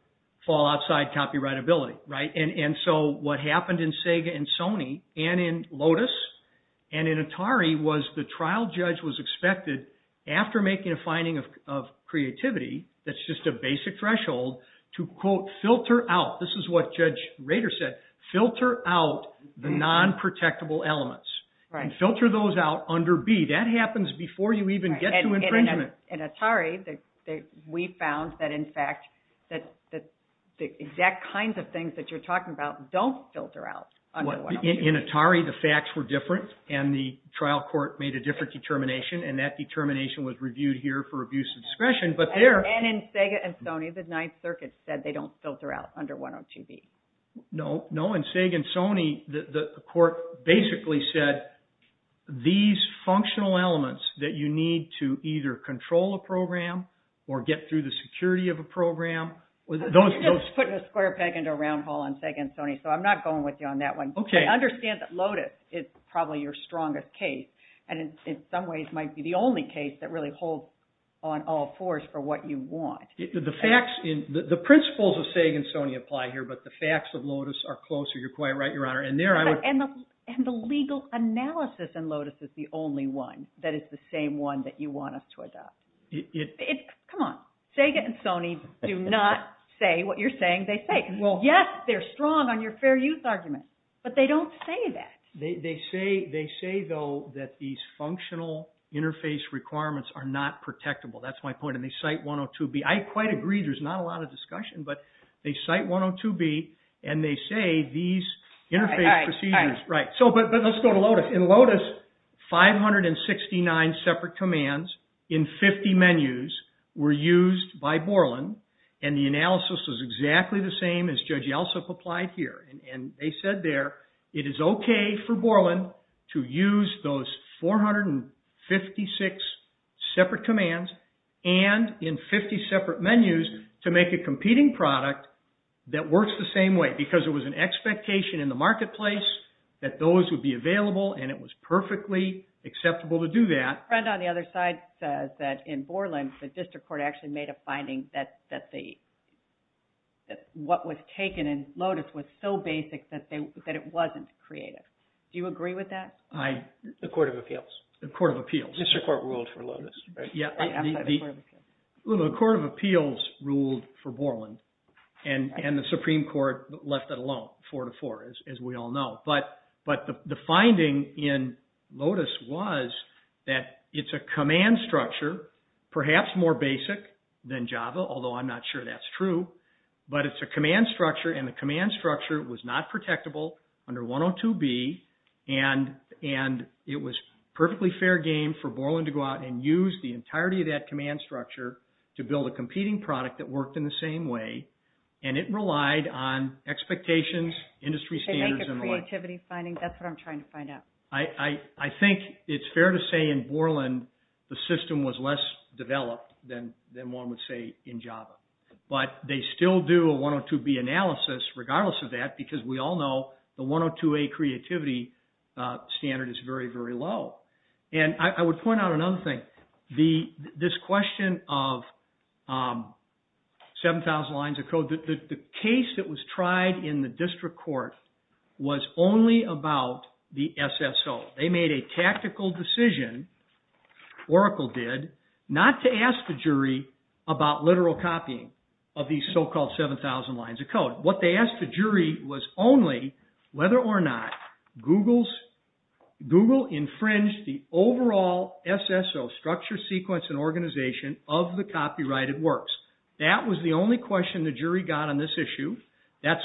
fall outside copyrightability, right? And so what happened in Sega and Sony and in Lotus and in Atari was the trial judge was expected, after making a finding of creativity, that's just a basic threshold, to, quote, filter out... This is what Judge Rader said, filter out the non-protectable elements and filter those out under B. That happens before you even get to infringement. In Atari, we found that, in fact, the exact kinds of things that you're talking about don't filter out. In Atari, the facts were different and the trial court made a different determination and that determination was reviewed here for abuse of discretion, but there... And in Sega and Sony, the Ninth Circuit said they don't filter out under 102B. No, no. In Sega and Sony, the court basically said these functional elements that you need to either control a program or get through the security of a program... I'm just putting a square peg into a round hole on Sega and Sony, so I'm not going with you on that one. Okay. Understand that Lotus is probably your strongest case and in some ways might be the only case that really holds on all fours for what you want. The principles of Sega and Sony apply here, but the facts of Lotus are closer. You're quite right, Your Honor. And the legal analysis in Lotus is the only one that is the same one that you want us to adopt. Come on, Sega and Sony do not say what you're saying they say. Yes, they're strong on your fair use argument, but they don't say that. They say, though, that these functional interface requirements are not protectable. That's my point. And they cite 102B. I quite agree. There's not a lot of discussion, but they cite 102B and they say these interface procedures... Right, right. But let's go to Lotus. In Lotus, 569 separate commands in 50 menus were used by Borland and the analysis was exactly the same as Judge Yeltsin applied here. And they said there, it is okay for Borland to use those 456 separate commands and in 50 separate menus to make a competing product that works the same way because it was an expectation in the marketplace that those would be available and it was perfectly acceptable to do that. Right. On the other side, in Borland, the district court actually made a finding that the what was taken in Lotus was so basic that it wasn't creative. Do you agree with that? I... The Court of Appeals. The Court of Appeals. District Court ruled for Lotus, right? Yeah, the Court of Appeals ruled for Borland and the Supreme Court left it alone, four to four, as we all know. But the finding in Lotus was that it's a command structure, perhaps more basic than Java, although I'm not sure that's true, but it's a command structure and the command structure was not protectable under 102B and it was perfectly fair game for Borland to go out and use the entirety of that command structure to build a competing product that worked in the same way. And it relied on expectations, industry standards, and what... They make a creativity finding. That's what I'm trying to find out. I think it's fair to say in Borland the system was less developed than one would say in Java. But they still do a 102B analysis regardless of that because we all know the 102A creativity standard is very, very low. And I would point out another thing. This question of 7,000 lines of code, the case that was tried in the district court was only about the SSO. They made a tactical decision, Oracle did, not to ask the jury about literal copying of these so-called 7,000 lines of code. What they asked the jury was only whether or not Google infringed the overall SSO structure, sequence, and organization of the copyrighted works. That was the only question the jury got on this issue. That's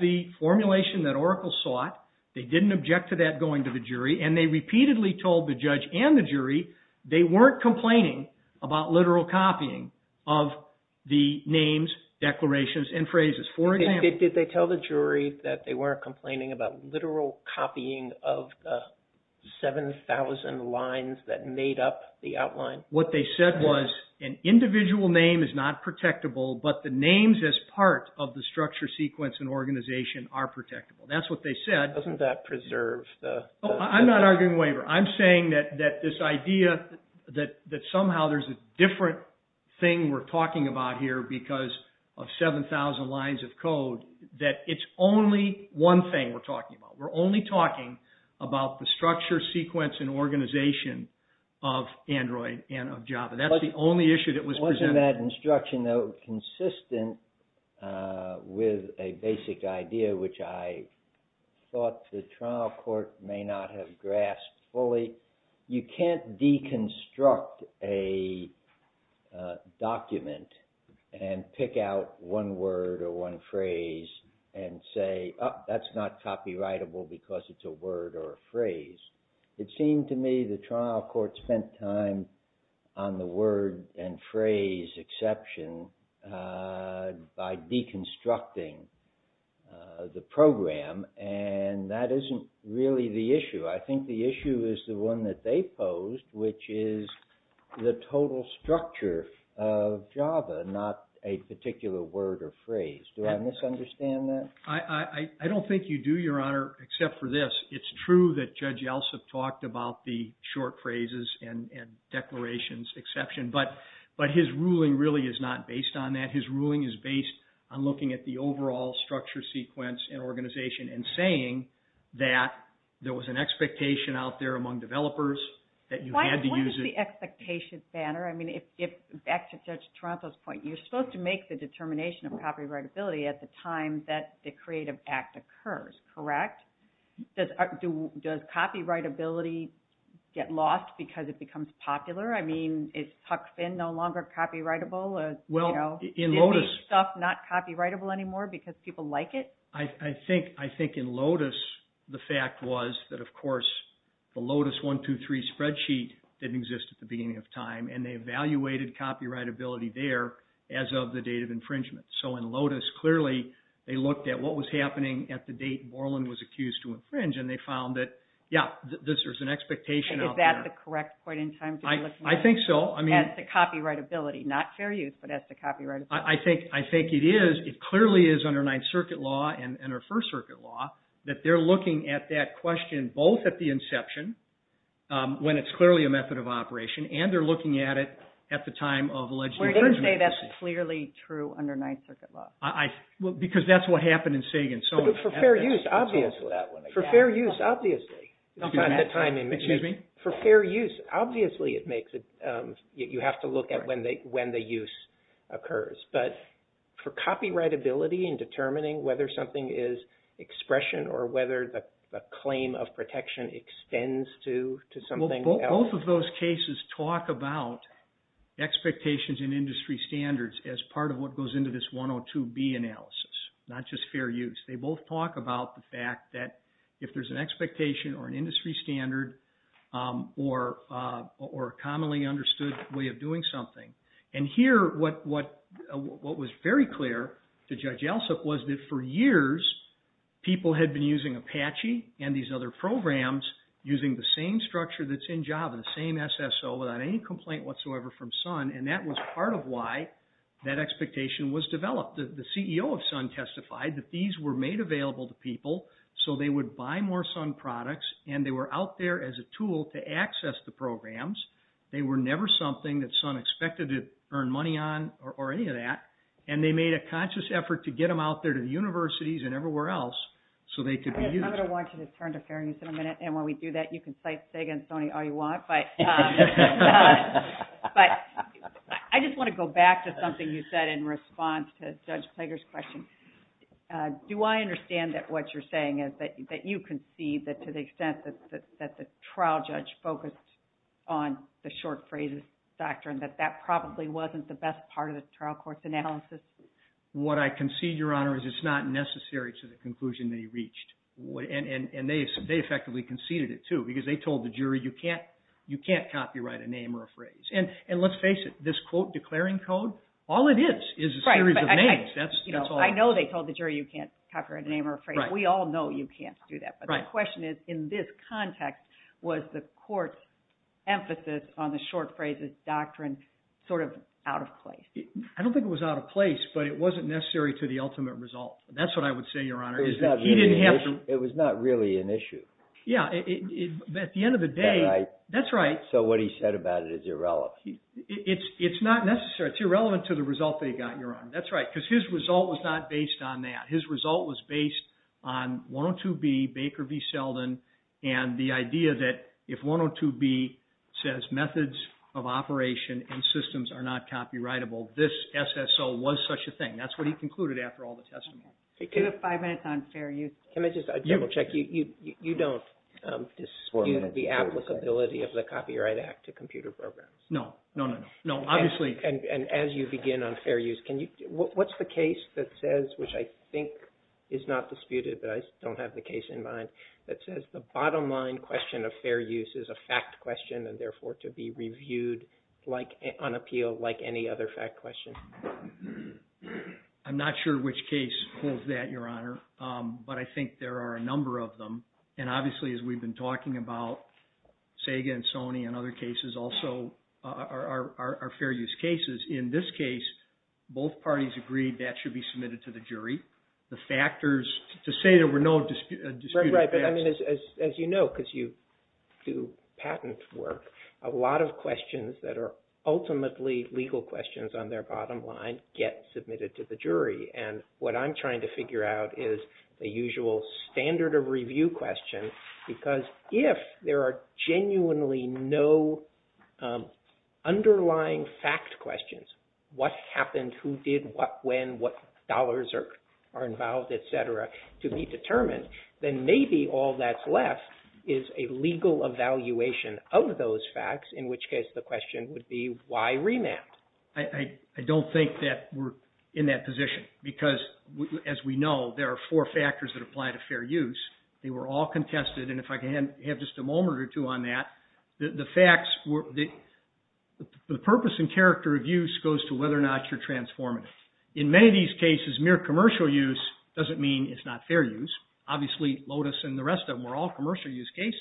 the formulation that Oracle sought. They didn't object to that going to the jury. And they repeatedly told the judge and the jury they weren't complaining about literal copying of the names, declarations, and phrases. For example... Did they tell the jury that they weren't complaining about literal copying of the 7,000 lines that made up the outline? What they said was an individual name is not protectable, but the names as part of the structure, sequence, and organization are protectable. That's what they said. Doesn't that preserve the... Oh, I'm not arguing waiver. I'm saying that this idea that somehow there's a different thing we're talking about here because of 7,000 lines of code, that it's only one thing we're talking about. We're only talking about the structure, sequence, and organization of Android and of Java. That's the only issue that was presented. That instruction, though, consistent with a basic idea, which I thought the trial court may not have grasped fully. You can't deconstruct a document and pick out one word or one phrase and say, oh, that's not copyrightable because it's a word or a phrase. It seemed to me the trial court spent time on the word and phrase exception by deconstructing the program, and that isn't really the issue. I think the issue is the one that they posed, which is the total structure of Java, not a particular word or phrase. Do I misunderstand that? I don't think you do, Your Honor, except for this. It's true that Judge Yeltsin talked about the short phrases and declarations exception, but his ruling really is not based on that. His ruling is based on looking at the overall structure, sequence, and organization and saying that there was an expectation out there among developers that you had to use it. Why wasn't the expectation standard? I mean, back to Judge Taranto's point, you're supposed to make the determination of copyrightability at the time that the creative act occurs, correct? Does copyrightability get lost because it becomes popular? I mean, it's tucked in, no longer copyrightable as, you know, stuff not copyrightable anymore because people like it? I think in Lotus, the fact was that, of course, the Lotus 1-2-3 spreadsheet didn't exist at the beginning of time, and they evaluated copyrightability there as of the date of infringement. So in Lotus, clearly, they looked at what was happening at the date Borland was accused to infringe, and they found that, yeah, there's an expectation out there. Is that the correct point in time? I think so. That's the copyrightability, not fair use, but that's the copyrightability. I think it is. It clearly is under Ninth Circuit law and our First Circuit law that they're looking at that question both at the inception, when it's clearly a method of operation, and they're looking at it at the time of alleged infringement. That's clearly true under Ninth Circuit law. Because that's what happened in Sagan. But for fair use, obviously. For fair use, obviously. For fair use, obviously, you have to look at when the use occurs. But for copyrightability and determining whether something is expression or whether the claim of protection extends to something else? Both of those cases talk about expectations and industry standards as part of what goes into this 102B analysis, not just fair use. They both talk about the fact that if there's an expectation or an industry standard or a commonly understood way of doing something. And here, what was very clear to Judge Elsup was that for years, people had been using Apache and these other programs using the same structure that's in Java, the same SSO, without any complaint whatsoever from Sun. And that was part of why that expectation was developed. The CEO of Sun testified that these were made available to people so they would buy more Sun products and they were out there as a tool to access the programs. They were never something that Sun expected to earn money on or any of that. And they made a conscious effort to get them out there to universities and everywhere else so they could be used. I'm going to want you to turn to fair use in a minute. And when we do that, you can say Sega and Sony all you want. But I just want to go back to something you said in response to Judge Plager's question. Do I understand that what you're saying is that you concede that to the extent that the trial judge focused on the short phrases doctrine, that that probably wasn't the best part of the trial court's analysis? What I concede, Your Honor, is it's not necessary to the conclusion they reached. And they effectively conceded it, too, because they told the jury you can't copyright a name or a phrase. And let's face it, this quote declaring code, all it is is a series of names. That's all it is. I know they told the jury you can't copyright a name or a phrase. We all know you can't do that. But the question is, in this context, was the court's emphasis on the short phrases doctrine sort of out of place? I don't think it was out of place. But it wasn't necessary to the ultimate result. That's what I would say, Your Honor, is that he didn't have to. It was not really an issue. Yeah, at the end of the day, that's right. So what he said about it is irrelevant. It's not necessary. It's irrelevant to the result they got, Your Honor. That's right. Because his result was not based on that. His result was based on 102B, Baker v. Selden, and the idea that if 102B says methods of this SSO was such a thing. That's what he concluded after all the testimony. You have five minutes on fair use. Let me just double check. You don't dispute the applicability of the Copyright Act to computer programs? No, no, no, no. Obviously. And as you begin on fair use, what's the case that says, which I think is not disputed, but I don't have the case in mind, that says the bottom line question of fair use is a reviewed on appeal like any other fact question. I'm not sure which case holds that, Your Honor. But I think there are a number of them. And obviously, as we've been talking about, SEGA and Sony and other cases also are fair use cases. In this case, both parties agreed that should be submitted to the jury. The factors to say there were no disputed facts. As you know, because you do patent work, a lot of questions that are ultimately legal questions on their bottom line get submitted to the jury. And what I'm trying to figure out is the usual standard of review question. Because if there are genuinely no underlying fact questions, what happened, who did what, when, what dollars are involved, et cetera, to be determined, then maybe all that's left is a legal evaluation of those facts. In which case, the question would be, why remand? I don't think that we're in that position. Because as we know, there are four factors that apply to fair use. They were all contested. And if I can have just a moment or two on that, the purpose and character of use goes to whether or not you're transformative. In many of these cases, mere commercial use doesn't mean it's not fair use. Obviously, Lotus and the rest of them were all commercial use cases.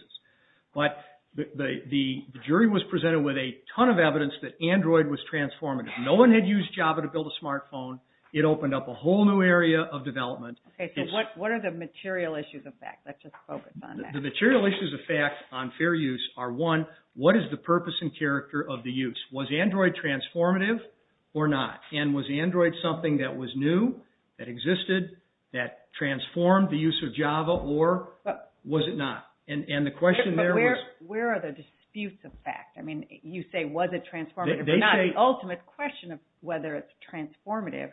But the jury was presented with a ton of evidence that Android was transformative. No one had used Java to build a smartphone. It opened up a whole new area of development. Okay, so what are the material issues of fact? Let's just focus on that. The material issues of fact on fair use are, one, what is the purpose and character of the use? Was Android transformative or not? And was Android something that was new, that existed, that transformed the use of Java, or was it not? And the question there was... But where are the disputes of fact? I mean, you say, was it transformative, but not the ultimate question of whether it's transformative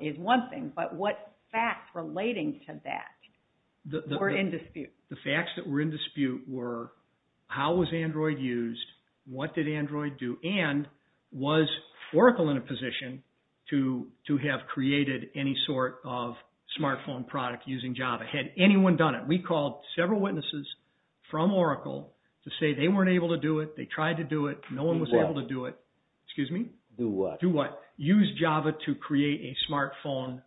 is one thing. But what facts relating to that were in dispute? The facts that were in dispute were, how was Android used? What did Android do? And was Oracle in a position to have created any sort of smartphone product using Java? Had anyone done it? We called several witnesses from Oracle to say they weren't able to do it. They tried to do it. No one was able to do it. Excuse me? Do what? Do what? Use Java to create a smartphone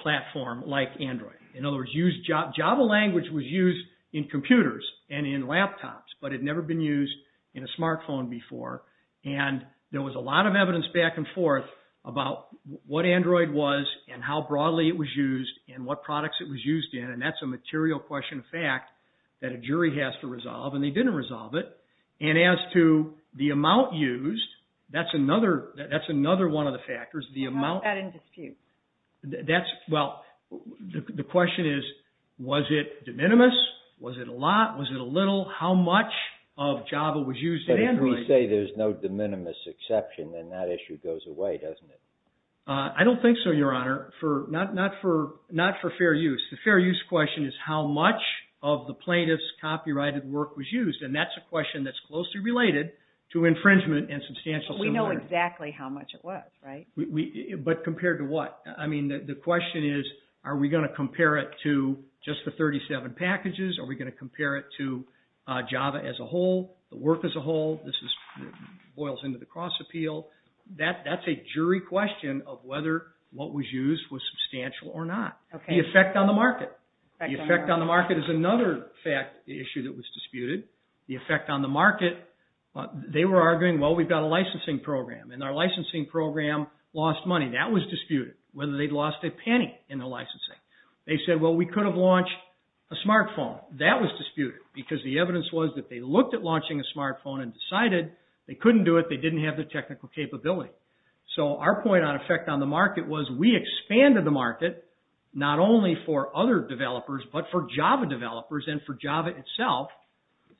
platform like Android. In other words, Java language was used in computers and in laptops, but had never been used in a smartphone before. And there was a lot of evidence back and forth about what Android was, and how broadly it was used, and what products it was used in. And that's a material question fact that a jury has to resolve. And they didn't resolve it. And as to the amount used, that's another one of the factors. The amount... How was that in dispute? That's... Well, the question is, was it de minimis? Was it a lot? Was it a little? How much of Java was used in Android? If you say there's no de minimis exception, then that issue goes away, doesn't it? I don't think so, Your Honor. Not for fair use. The fair use question is how much of the plaintiff's copyrighted work was used. And that's a question that's closely related to infringement and substantial... We know exactly how much it was, right? But compared to what? I mean, the question is, are we going to compare it to just the 37 packages? Are we going to compare it to Java as a whole, the work as a whole? This boils into the cross appeal. That's a jury question of whether what was used was substantial or not. The effect on the market. The effect on the market is another issue that was disputed. The effect on the market... They were arguing, well, we've got a licensing program. And our licensing program lost money. That was disputed, whether they'd lost a penny in the licensing. They said, well, we could have launched a smartphone. That was disputed because the evidence was that they looked at launching a smartphone and decided they couldn't do it. They didn't have the technical capability. So our point on effect on the market was we expanded the market, not only for other developers, but for Java developers and for Java itself.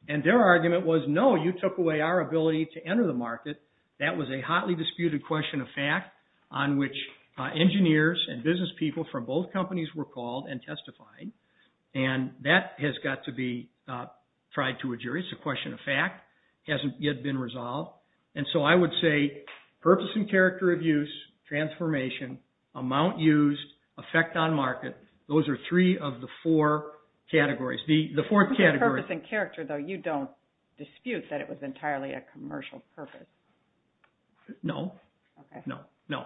And their argument was, no, you took away our ability to enter the market. That was a hotly disputed question of fact on which engineers and business people from both companies were called and testified. And that has got to be tried to a jury. It's a question of fact. It hasn't yet been resolved. And so I would say purpose and character of use, transformation, amount used, effect on market. Those are three of the four categories. The fourth category... Purpose and character, though. You don't dispute that it was entirely a commercial purpose. No, no, no.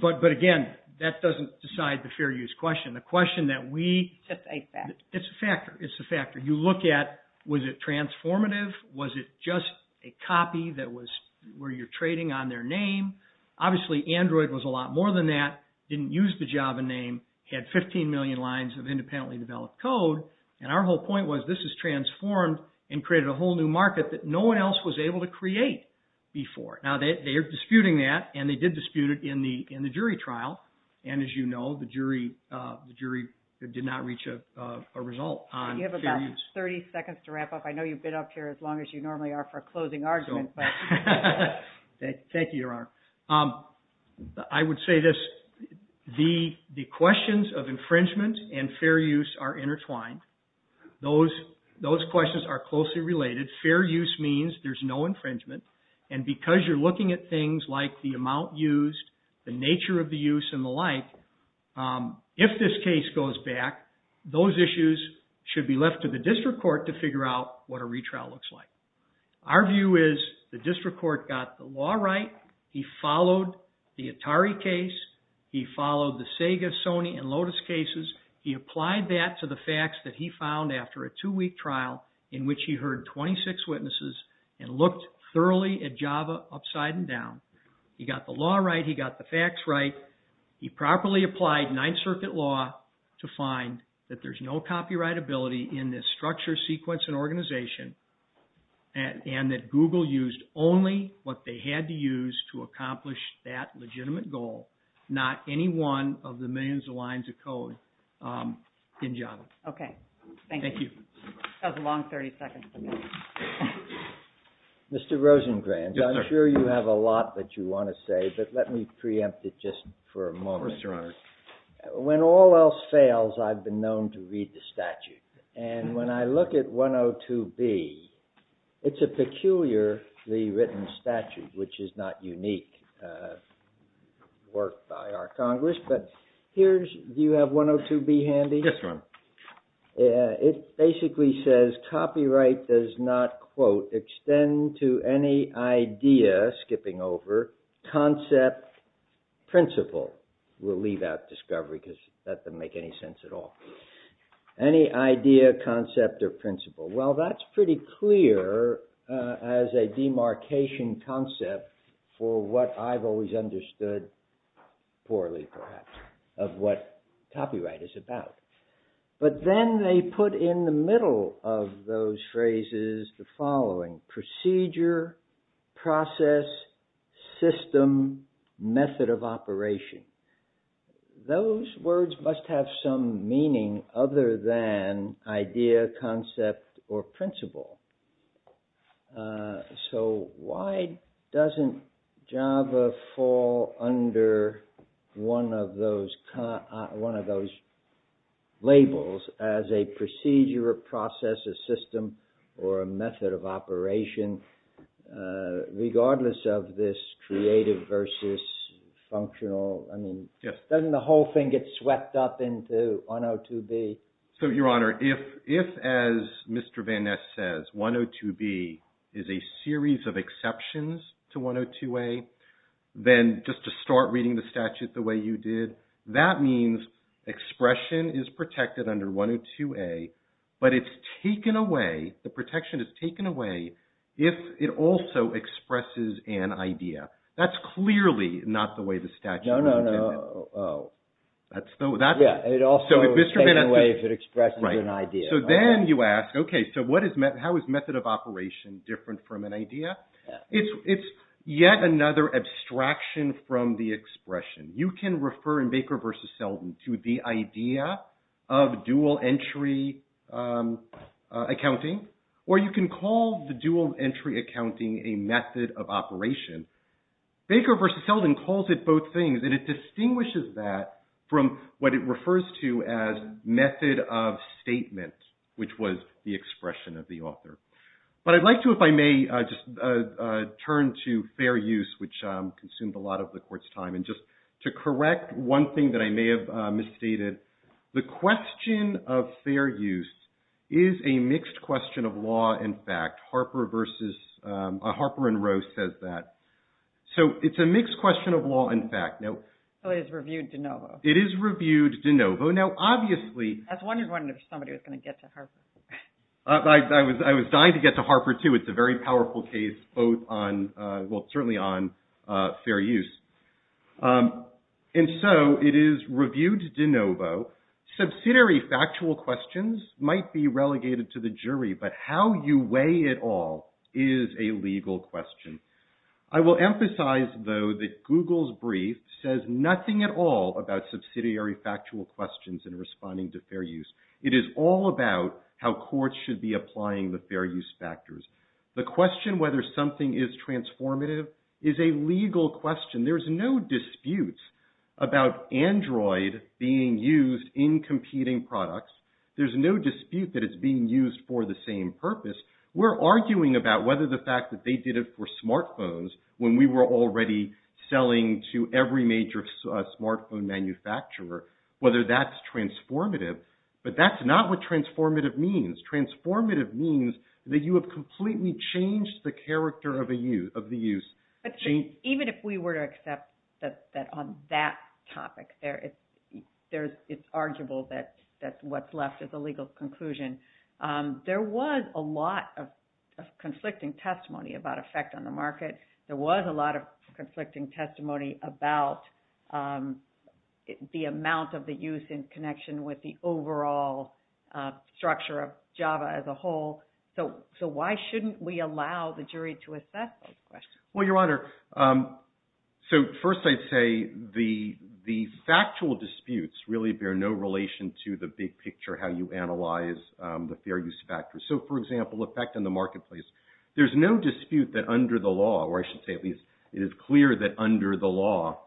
But again, that doesn't decide the fair use question. A question that we... It's a factor. It's a factor. It's a factor. You look at, was it transformative? Was it just a copy that was where you're trading on their name? Obviously, Android was a lot more than that. Didn't use the Java name. Had 15 million lines of independently developed code. And our whole point was this is transformed and created a whole new market that no one else was able to create before. Now, they are disputing that and they did dispute it in the jury trial. And as you know, the jury did not reach a result. You have about 30 seconds to wrap up. I know you've been up here as long as you normally are for closing arguments. Thank you, Your Honor. I would say this. The questions of infringement and fair use are intertwined. Those questions are closely related. Fair use means there's no infringement. And because you're looking at things like the amount used, the nature of the use, and the like, if this case goes back, those issues should be left to the district court to figure out what a retrial looks like. Our view is the district court got the law right. He followed the Atari case. He followed the Sega, Sony, and Lotus cases. He applied that to the facts that he found after a two-week trial in which he heard 26 witnesses and looked thoroughly at Java upside and down. He got the law right. He got the facts right. He properly applied Ninth Circuit law to find that there's no copyright ability in this structure, sequence, and organization, and that Google used only what they had to use to accomplish that legitimate goal, not any one of the millions of lines of code in Java. Okay. Thank you. That was a long 30 seconds. Mr. Rosengrant, I'm sure you have a lot that you want to say, but let me preempt it just for a moment. Yes, Your Honor. When all else fails, I've been known to read the statute. And when I look at 102B, it's a peculiarly written statute, which is not unique work by our Congress. But here's, do you have 102B handy? Yes, Your Honor. It basically says, copyright does not, quote, extend to any idea, skipping over, concept, principle. We'll leave out discovery because that doesn't make any sense at all. Any idea, concept, or principle. Well, that's pretty clear as a demarcation concept for what I've always understood poorly, perhaps, of what copyright is about. But then they put in the middle of those phrases the following. Procedure, process, system, method of operation. Those words must have some meaning other than idea, concept, or principle. So why doesn't Java fall under one of those labels as a procedure, a process, a system, or a method of operation, regardless of this creative versus functional? I mean, doesn't the whole thing get swept up into 102B? So, Your Honor, if, as Mr. Van Ness says, 102B is a series of exceptions to 102A, then just to start reading the statute the way you did, that means expression is protected under 102A, but it's taken away, the protection is taken away, if it also expresses an idea. That's clearly not the way the statute is. No, no, no. That's the, that's. It also is taken away if it expresses an idea. So then you ask, okay, so what is, how is method of operation different from an idea? It's yet another abstraction from the expression. You can refer in Baker v. Selden to the idea of dual entry accounting, or you can call the dual entry accounting a method of operation. Baker v. Selden calls it both things, and it distinguishes that from what it refers to as method of statement, which was the expression of the author. But I'd like to, if I may, just turn to fair use, which consumed a lot of the Court's time. And just to correct one thing that I may have misstated, the question of fair use is a mixed question of law and fact. Harper versus, Harper and Roe says that. So it's a mixed question of law and fact. So it is reviewed de novo. It is reviewed de novo. Now, obviously. I was wondering if somebody was going to get to Harper. I was dying to get to Harper, too. It's a very powerful case, both on, well, certainly on fair use. And so it is reviewed de novo. Subsidiary factual questions might be relegated to the jury, but how you weigh it all is a legal question. I will emphasize, though, that Google's brief says nothing at all about subsidiary factual questions in responding to fair use. It is all about how courts should be applying the fair use factors. The question whether something is transformative is a legal question. There's no dispute about Android being used in competing products. There's no dispute that it's being used for the same purpose. We're arguing about whether the fact that they did it for smartphones, when we were already selling to every major smartphone manufacturer, whether that's transformative. But that's not what transformative means. Transformative means that you have completely changed the character of the use. Even if we were to accept that on that topic, it's arguable that what's left is a legal conclusion. There was a lot of conflicting testimony about effect on the market. There was a lot of conflicting testimony about the amount of the use in connection with the overall structure of Java as a whole. So why shouldn't we allow the jury to assess that question? Well, Your Honor, so first I'd say the factual disputes really bear no relation to the big picture, how you analyze the fair use factors. So for example, effect in the marketplace. There's no dispute that under the law, or I should say it is clear that under the law,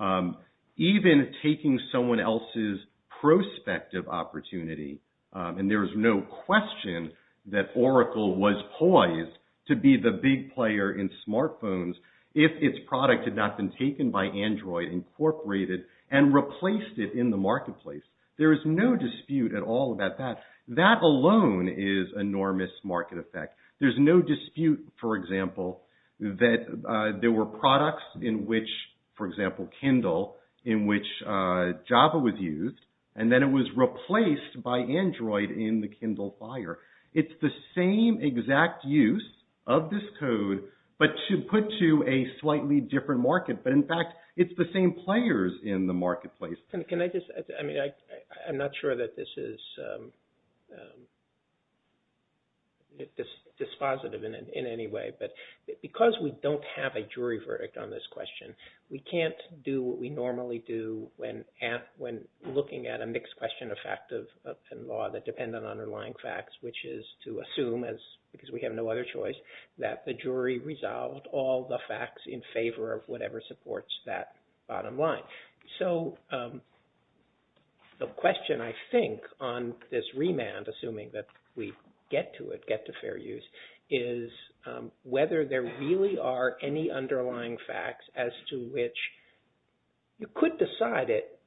even taking someone else's prospective opportunity, and there is no question that Oracle was poised to be the big player in smartphones if its product had not been taken by Android, incorporated, and replaced it in the marketplace. There is no dispute at all about that. That alone is enormous market effect. There's no dispute, for example, that there were products in which, for example, Kindle, in which Java was used, and then it was replaced by Android in the Kindle Fire. It's the same exact use of this code, but you put to a slightly different market. But in fact, it's the same players in the marketplace. Can I just, I mean, I'm not sure that this is dispositive in any way, but because we don't have a jury verdict on this question, we can't do what we normally do when looking at a mixed question of fact and law that depend on underlying facts, which is to assume, because we have no other choice, that the jury resolved all the facts in favor of whatever supports that bottom line. So the question, I think, on this remand, assuming that we get to it, get to fair use, is whether there really are any underlying facts as to which you could decide it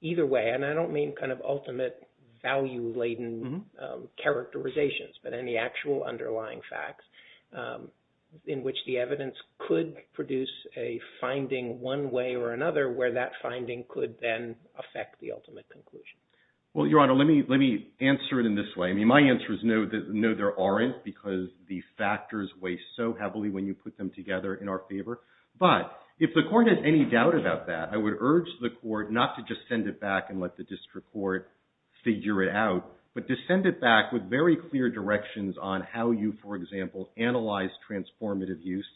either way, and I don't mean kind of ultimate value-laden characterizations, but any actual underlying facts in which the evidence could produce a finding one way or another where that finding could then affect the ultimate conclusion. Well, Your Honor, let me answer it in this way. I mean, my answer is no, there aren't, because the factors weigh so heavily when you put them together in our favor. But if the court has any doubt about that, I would urge the court not to just send it back and let the district court figure it out, but to send it back with very clear directions on how you, for example, analyze transformative use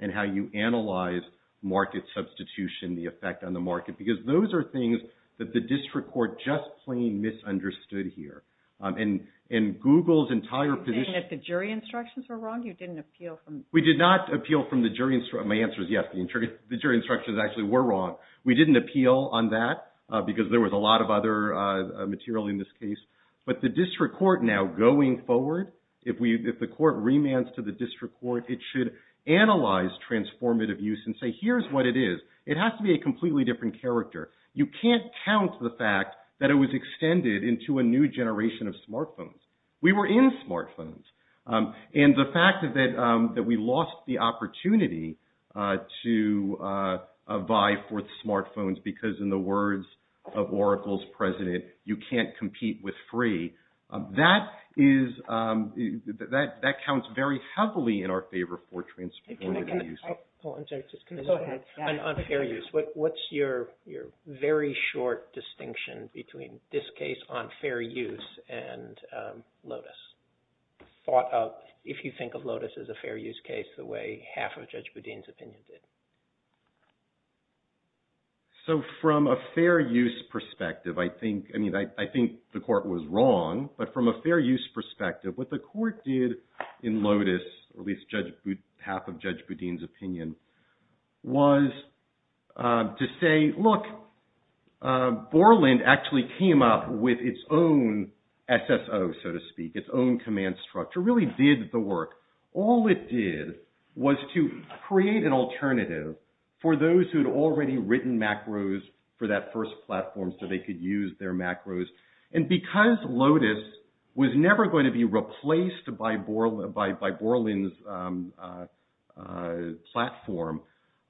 and how you analyze market substitution, the effect on the market, because those are things that the district court just plain misunderstood here. And Google's entire position... You're saying that the jury instructions were wrong? You didn't appeal from... We did not appeal from the jury... My answer is yes, the jury instructions actually were wrong. We didn't appeal on that, because there was a lot of other material in this case. But the district court now going forward, if the court remands to the district court, it should analyze transformative use and say, here's what it is. It has to be a completely different character. You can't count the fact that it was extended into a new generation of smartphones. We were in smartphones. And the fact that we lost the opportunity to of Oracle's president, you can't compete with free. That counts very heavily in our favor for transformative use. I'm sorry, just go ahead. On fair use, what's your very short distinction between this case on fair use and Lotus? Thought of, if you think of Lotus as a fair use case, the way half of Judge Boudin's opinion did. So, from a fair use perspective, I think the court was wrong. But from a fair use perspective, what the court did in Lotus, at least half of Judge Boudin's opinion, was to say, look, Borland actually came up with its own SSO, so to speak, its own command structure, really did the for those who had already written macros for that first platform so they could use their macros. And because Lotus was never going to be replaced by Borland's platform,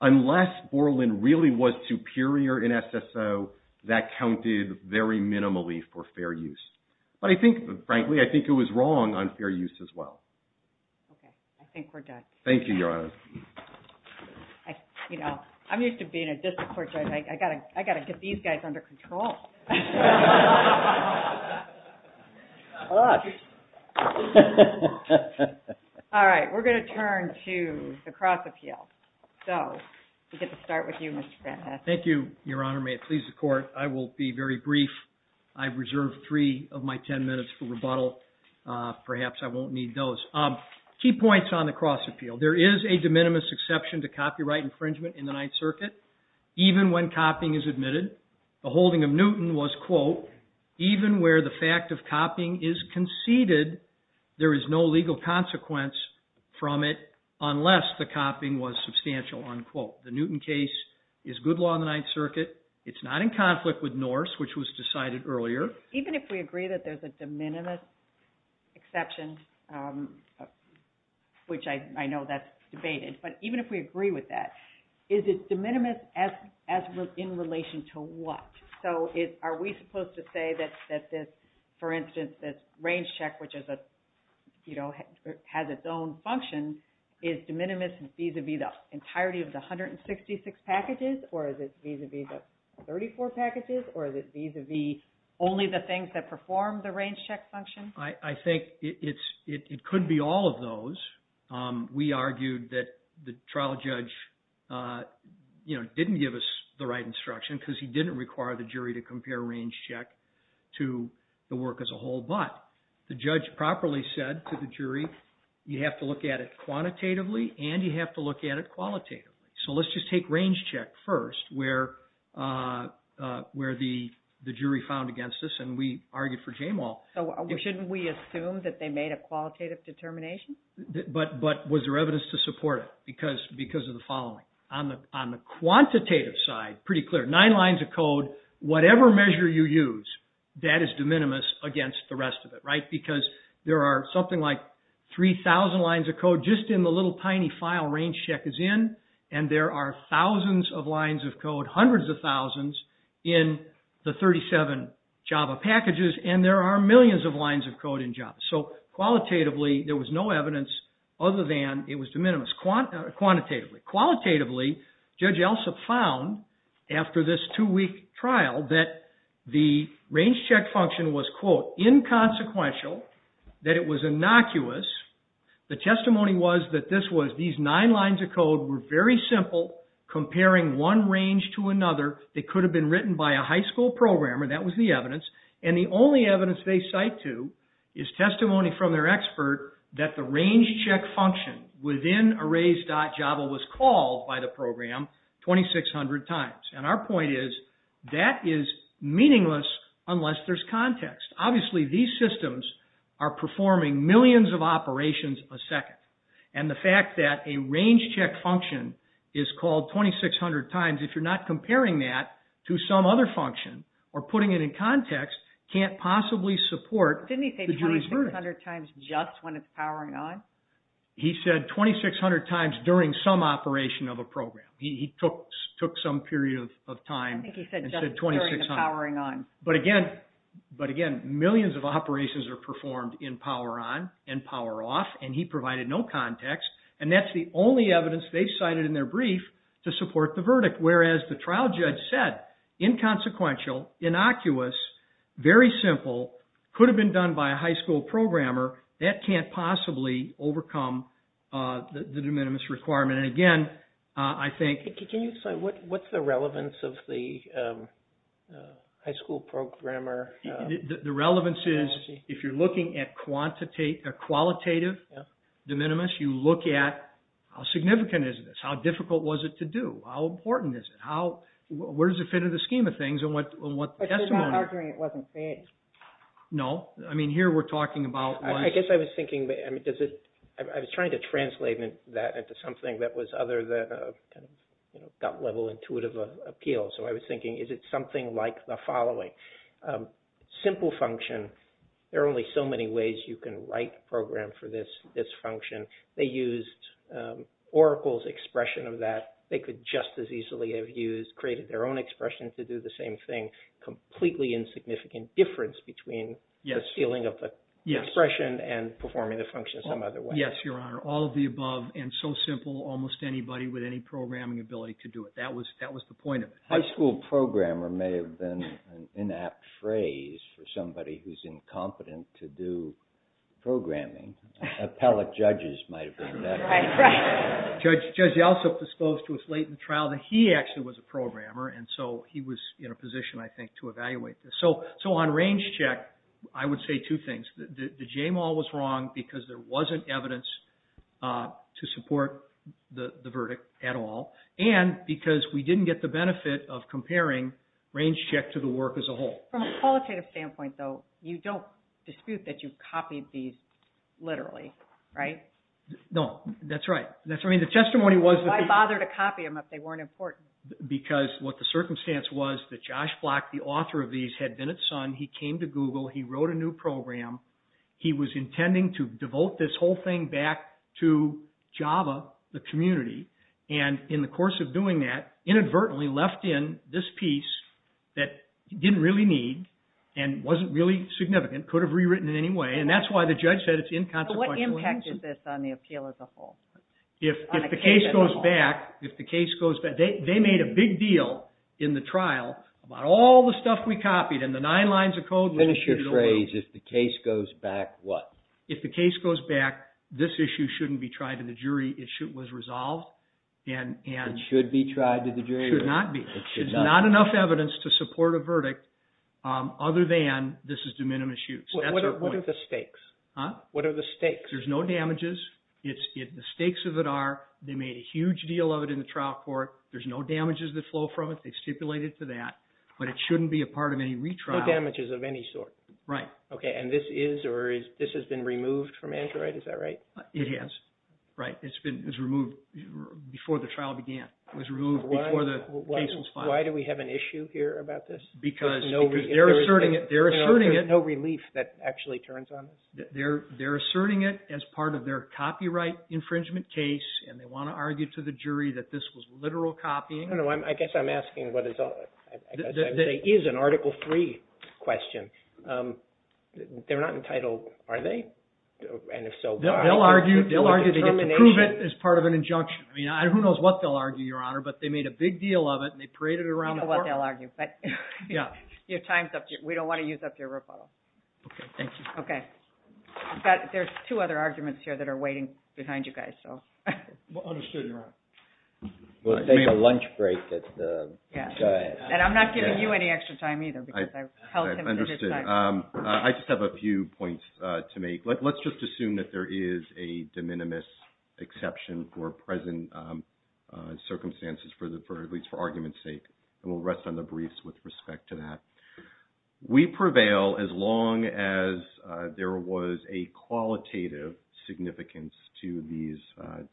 unless Borland really was superior in SSO, that counted very minimally for fair use. But I think, frankly, I think it was wrong on fair use as well. Okay. I think we're done. Thank you, Your Honor. I'm used to being a district court judge. I got to get these guys under control. All right. We're going to turn to the cross appeal. So, we'll get to start with you, Mr. Van Hassen. Thank you, Your Honor. May it please the court, I will be very brief. I've reserved three of my 10 minutes for rebuttal. Perhaps I won't need those. Key points on the cross appeal. There is a de minimis exception to copyright infringement in the Ninth Circuit, even when copying is admitted. The holding of Newton was, quote, even where the fact of copying is conceded, there is no legal consequence from it, unless the copying was substantial, unquote. The Newton case is good law in the Ninth Circuit. It's not in conflict with Norse, which was decided earlier. Even if we agree that there's a de minimis exception, which I know that's debated, but even if we agree with that, is it de minimis in relation to what? So, are we supposed to say that this, for instance, this range check, which has its own function, is de minimis vis-a-vis the 166 packages, or is it vis-a-vis the 34 packages, or is it vis-a-vis only the things that perform the range check function? I think it could be all of those. We argued that the trial judge didn't give us the right instruction because he didn't require the jury to compare range check to the work as a whole, but the judge properly said to the jury, you have to look at it as a whole. So, let's just take range check first, where the jury found against this, and we argued for Jamal. So, shouldn't we assume that they made a qualitative determination? But was there evidence to support it because of the following? On the quantitative side, pretty clear, nine lines of code, whatever measure you use, that is de minimis against the rest of it, right? Because there are something like 3,000 lines of code just in the little tiny file range check is in, and there are thousands of lines of code, hundreds of thousands, in the 37 Java packages, and there are millions of lines of code in Java. So, qualitatively, there was no evidence other than it was de minimis quantitatively. Qualitatively, Judge Elsup found, after this two-week trial, that the range check function was, quote, inconsequential, that it was innocuous. The testimony was that this was, these nine lines of code were very simple comparing one range to another. They could have been written by a high school programmer, that was the evidence, and the only evidence they cite to is testimony from their expert that the range check function within arrays.java was called by the program 2,600 times. And our point is, that is meaningless unless there's context. Obviously, these systems are performing millions of operations a second, and the fact that a range check function is called 2,600 times, if you're not comparing that to some other function or putting it in context, can't possibly support... Didn't he say 2,600 times just when it's powering on? He said 2,600 times during some operation of a program. He took some period of time and said 2,600. But again, millions of operations are performed in power on and power off, and he provided no context, and that's the only evidence they cited in their brief to support the verdict. Whereas, the trial judge said, inconsequential, innocuous, very simple, could have been done by a high school programmer, that can't possibly overcome the de minimis requirement. And again, I think... Can you say what's the relevance of the high school programmer? The relevance is, if you're looking at a qualitative de minimis, you look at how significant is this, how difficult was it to do, how important is it, where's the fit of the scheme of things, and what... But you're not arguing it wasn't fair. No. I mean, here we're talking about... I guess I was thinking, I mean, does it... I was trying to translate that into something that was other than a gut level intuitive appeal. So I was thinking, is it something like the following? Simple function, there are only so many ways you can write program for this function. They used Oracle's expression of that. They could just as easily have used, created their own expression to do the same thing. Completely insignificant difference between the feeling of the expression and performing the function some other way. Yes, your honor. All of the above and so simple, almost anybody with any programming ability to do it. That was the point of it. High school programmer may have been an inapt phrase for somebody who's incompetent to do programming. Appellate judges might have been better. Right. Judge Yeltsin disclosed to his latent trial that he actually was a programmer. And so he was in a position, I think, to evaluate this. So on range check, I would say two things. The JMOL was wrong because there wasn't evidence to support the verdict at all. And because we didn't get the benefit of comparing range check to the work as a whole. From a qualitative standpoint, though, you don't dispute that you've copied these literally, right? No, that's right. I mean, the testimony was- Why bother to copy them if they weren't important? Because what the circumstance was that Josh Block, the author of these, had been at Sun. He came to Google. He wrote a new program. He was intending to devote this whole thing back to Java, the community. And in the course of doing that, inadvertently left in this piece that didn't really need and wasn't really significant, could have rewritten it anyway. And that's why the judge said it's inconsequential. What impact is this on the appeal as a whole? If the case goes back, if the case goes back, they made a big deal in the trial about all the stuff we copied and the nine lines of code- Finish your phrase, if the case goes back what? If the case goes back, this issue shouldn't be tried to the jury. It was resolved and- It should be tried to the jury. Should not be. There's not enough evidence to support a verdict other than this is de minimis use. That's your point. What are the stakes? What are the stakes? There's no damages. The stakes of it are, they made a huge deal of it in the trial court. There's no damages that flow from it. They stipulated to that, but it shouldn't be a part of any retrial. No damages of any sort. Right. Okay. And this is, or this has been removed from Android. Is that right? It has. Right. It's been removed before the trial began. It was removed before the case was filed. Why do we have an issue here about this? Because they're asserting it. There's no relief that actually turns on it. They're asserting it as part of their copyright infringement case, and they want to argue to the jury that this was literal copying. No, no. I guess I'm asking what is, I guess I would say is an article three question. They're not entitled, are they? And if so- They'll argue, they'll argue to prove it as part of an injunction. I mean, who knows what they'll argue, your honor, but they made a big deal of it, and they paraded it around the court. I don't know what they'll argue, but- Yeah. Your time's up. We don't want to use up your rebuttal. Okay. Thank you. Okay. I've got, there's two other arguments here that are waiting behind you guys, so. Understood, your honor. We'll take a lunch break at the- Yeah. And I'm not giving you any extra time either because I've held him- Understood. I just have a few points to make. Let's just assume that there is a de minimis exception for present circumstances, at least for argument's sake. We'll rest on the briefs with respect to that. We prevail as long as there was a qualitative significance to these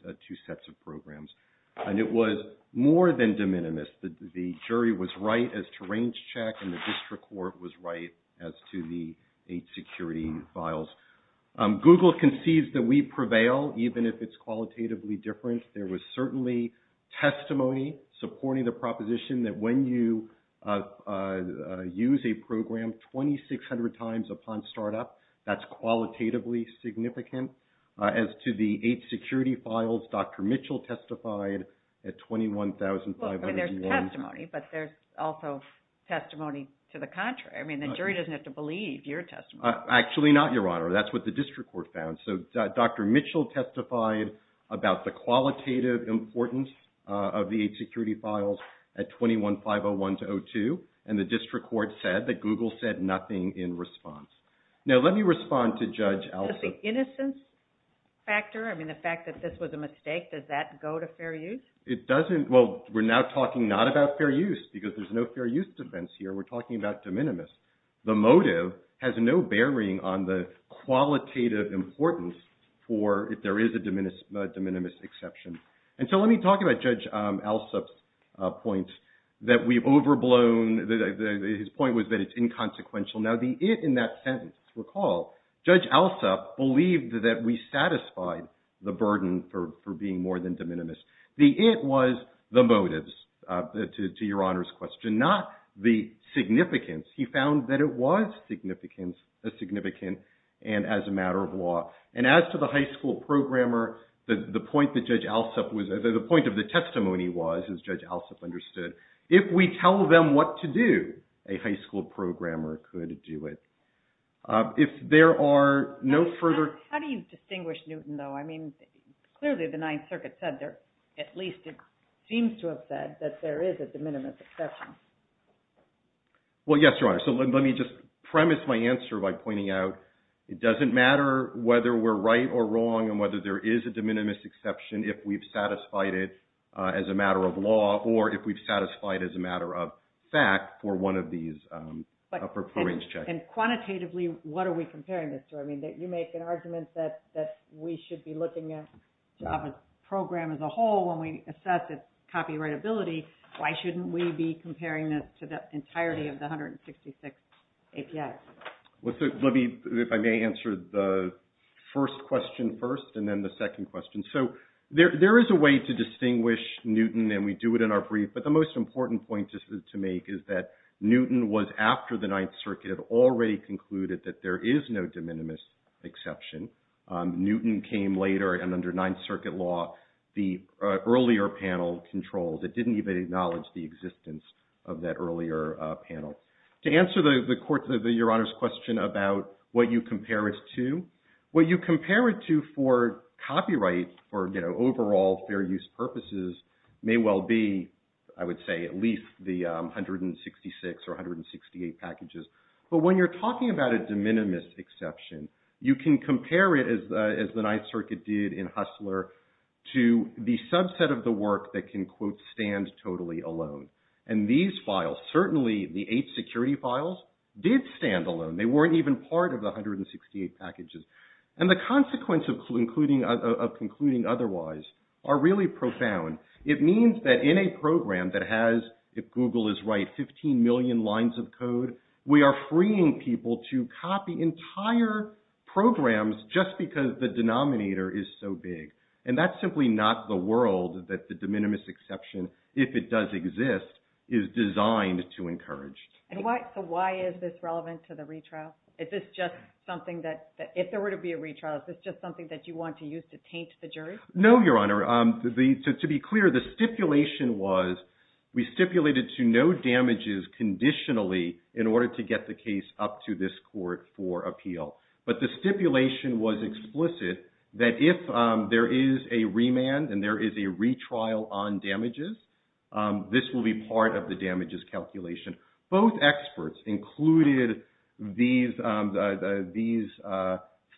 two sets of programs. And it was more than de minimis. The jury was right as to range check, and the district court was right as to the eight security files. Google concedes that we prevail even if it's qualitatively different. There was certainly testimony supporting the proposition that when you use a program 2,600 times upon startup, that's qualitatively significant. As to the eight security files, Dr. Mitchell testified at $21,500. Well, there's testimony, but there's also testimony to the contrary. I mean, the jury doesn't have to believe your testimony. Actually not, your honor. That's what the district court found. So Dr. Mitchell testified about the qualitative importance of the eight security files at $21,501-02, and the district court said that Google said nothing in response. Now, let me respond to Judge Allison. Does the innocence factor, I mean, the fact that this was a mistake, does that go to fair use? It doesn't. Well, we're now talking not about fair use because there's no fair use defense here. We're talking about de minimis. The motive has no bearing on the qualitative importance for if there is a de minimis exception. And so let me talk about Judge Alsop's point that we've overblown. His point was that it's inconsequential. Now, the it in that sentence, recall, Judge Alsop believed that we satisfied the burden for being more than de minimis. The it was the motives, to your honor's question, not the significance. He found that it was significant and as a matter of law. And as to the high school programmer, the point that Judge Alsop, the point of the testimony was, as Judge Alsop understood, if we tell them what to do, a high school programmer could do it. If there are no further- How do you distinguish Newton, though? I mean, clearly the Ninth Circuit said there, at least it seems to have said that there is a de minimis exception. Well, yes, your honor. So let me just premise my answer by pointing out it doesn't matter whether we're right or wrong and whether there is a de minimis exception, if we've satisfied it as a matter of law or if we've satisfied it as a matter of fact for one of these upper points. And quantitatively, what are we comparing this to? I mean, you make an argument that we should be looking at Java's program as a whole when we assess its copyright ability. Why shouldn't we be comparing it to the entirety of the 166 ACF? Let me, if I may answer the first question first and then the second question. So there is a way to distinguish Newton and we do it in our brief, but the most important point this is to make is that Newton was after the Ninth Circuit already concluded that there is no de minimis exception. Newton came later and under Ninth Circuit law, the earlier panel controls. It didn't even acknowledge the existence of that earlier panel. To answer your honor's question about what you compare it to, what you compare it to for copyright or overall fair use purposes may well be, I would say, at least the 166 or 168 packages. But when you're talking about a de minimis exception, you can compare it as the Ninth Circuit did in Hustler to the subset of the work that can quote, stand totally alone. And these files, certainly the eight security files did stand alone. They weren't even part of the 168 packages. And the consequences of concluding otherwise are really profound. It means that in a program that has, if Google is right, 15 million lines of code, we are freeing people to copy entire programs just because the denominator is so big. And that's simply not the world that the de minimis exception, if it does exist, is designed to encourage. So why is this relevant to the retrial? If there were to be a retrial, is this just something that you want to use to taint the jury? No, your honor. To be clear, the stipulation was, we stipulated to no damages conditionally in order to get the case up to this court for appeal. But the stipulation was explicit that if there is a remand and there is a retrial on damages, this will be part of the damages calculation. Both experts included these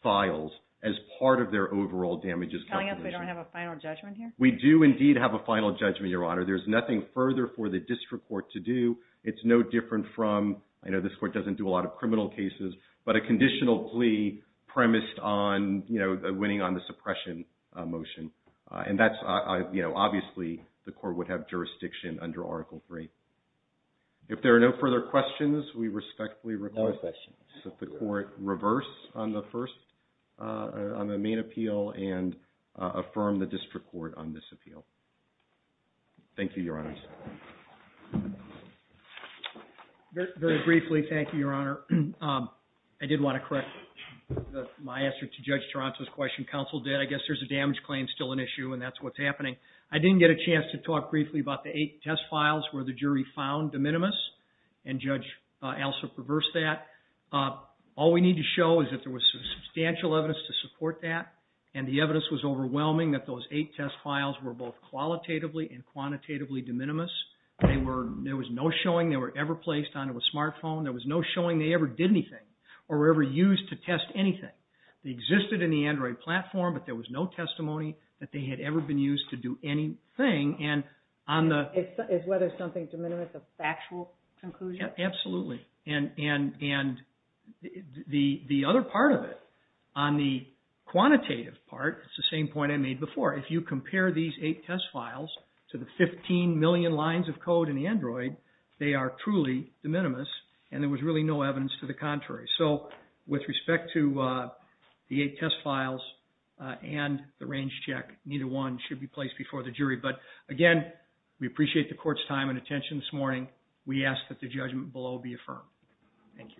files as part of their overall damages calculation. We don't have a final judgment here? We do indeed have a final judgment, your honor. There's nothing further for the district court to do. It's no different from, I know this court doesn't do a lot of criminal cases, but a conditional plea premised on, you know, winning on the suppression motion. And that's, you know, obviously, the court would have jurisdiction under article three. If there are no further questions, we respectfully request that the court reverse on the first, on the main appeal and affirm the district court on this appeal. Thank you, your honor. Very briefly, thank you, your honor. I did want to correct my answer to Judge Toronto's question. Counsel did. I guess there's a damage claim still an issue and that's what's happening. I didn't get a chance to talk briefly about the eight test files where the jury found the minimus and Judge Alsop reversed that. All we need to show is that there was substantial evidence to support that. And the evidence was overwhelming that those eight test files were both qualitatively and quantitatively de minimis. They were, there was no showing they were ever placed onto a smartphone. There was no showing they ever did anything or were ever used to test anything. They existed in the Android platform, but there was no testimony that they had ever been used to do anything. And on the... It's whether it's something de minimis, a factual conclusion? Absolutely. And the other part of it on the quantitative part, it's the same point I made before. If you compare these eight test files to the 15 million lines of code in the Android, they are truly de minimis and there was really no evidence to the contrary. So with respect to the eight test files and the range check, neither one should be placed before the jury. But again, we appreciate the court's time and attention this morning. We ask that the judgment below be affirmed. Thank you.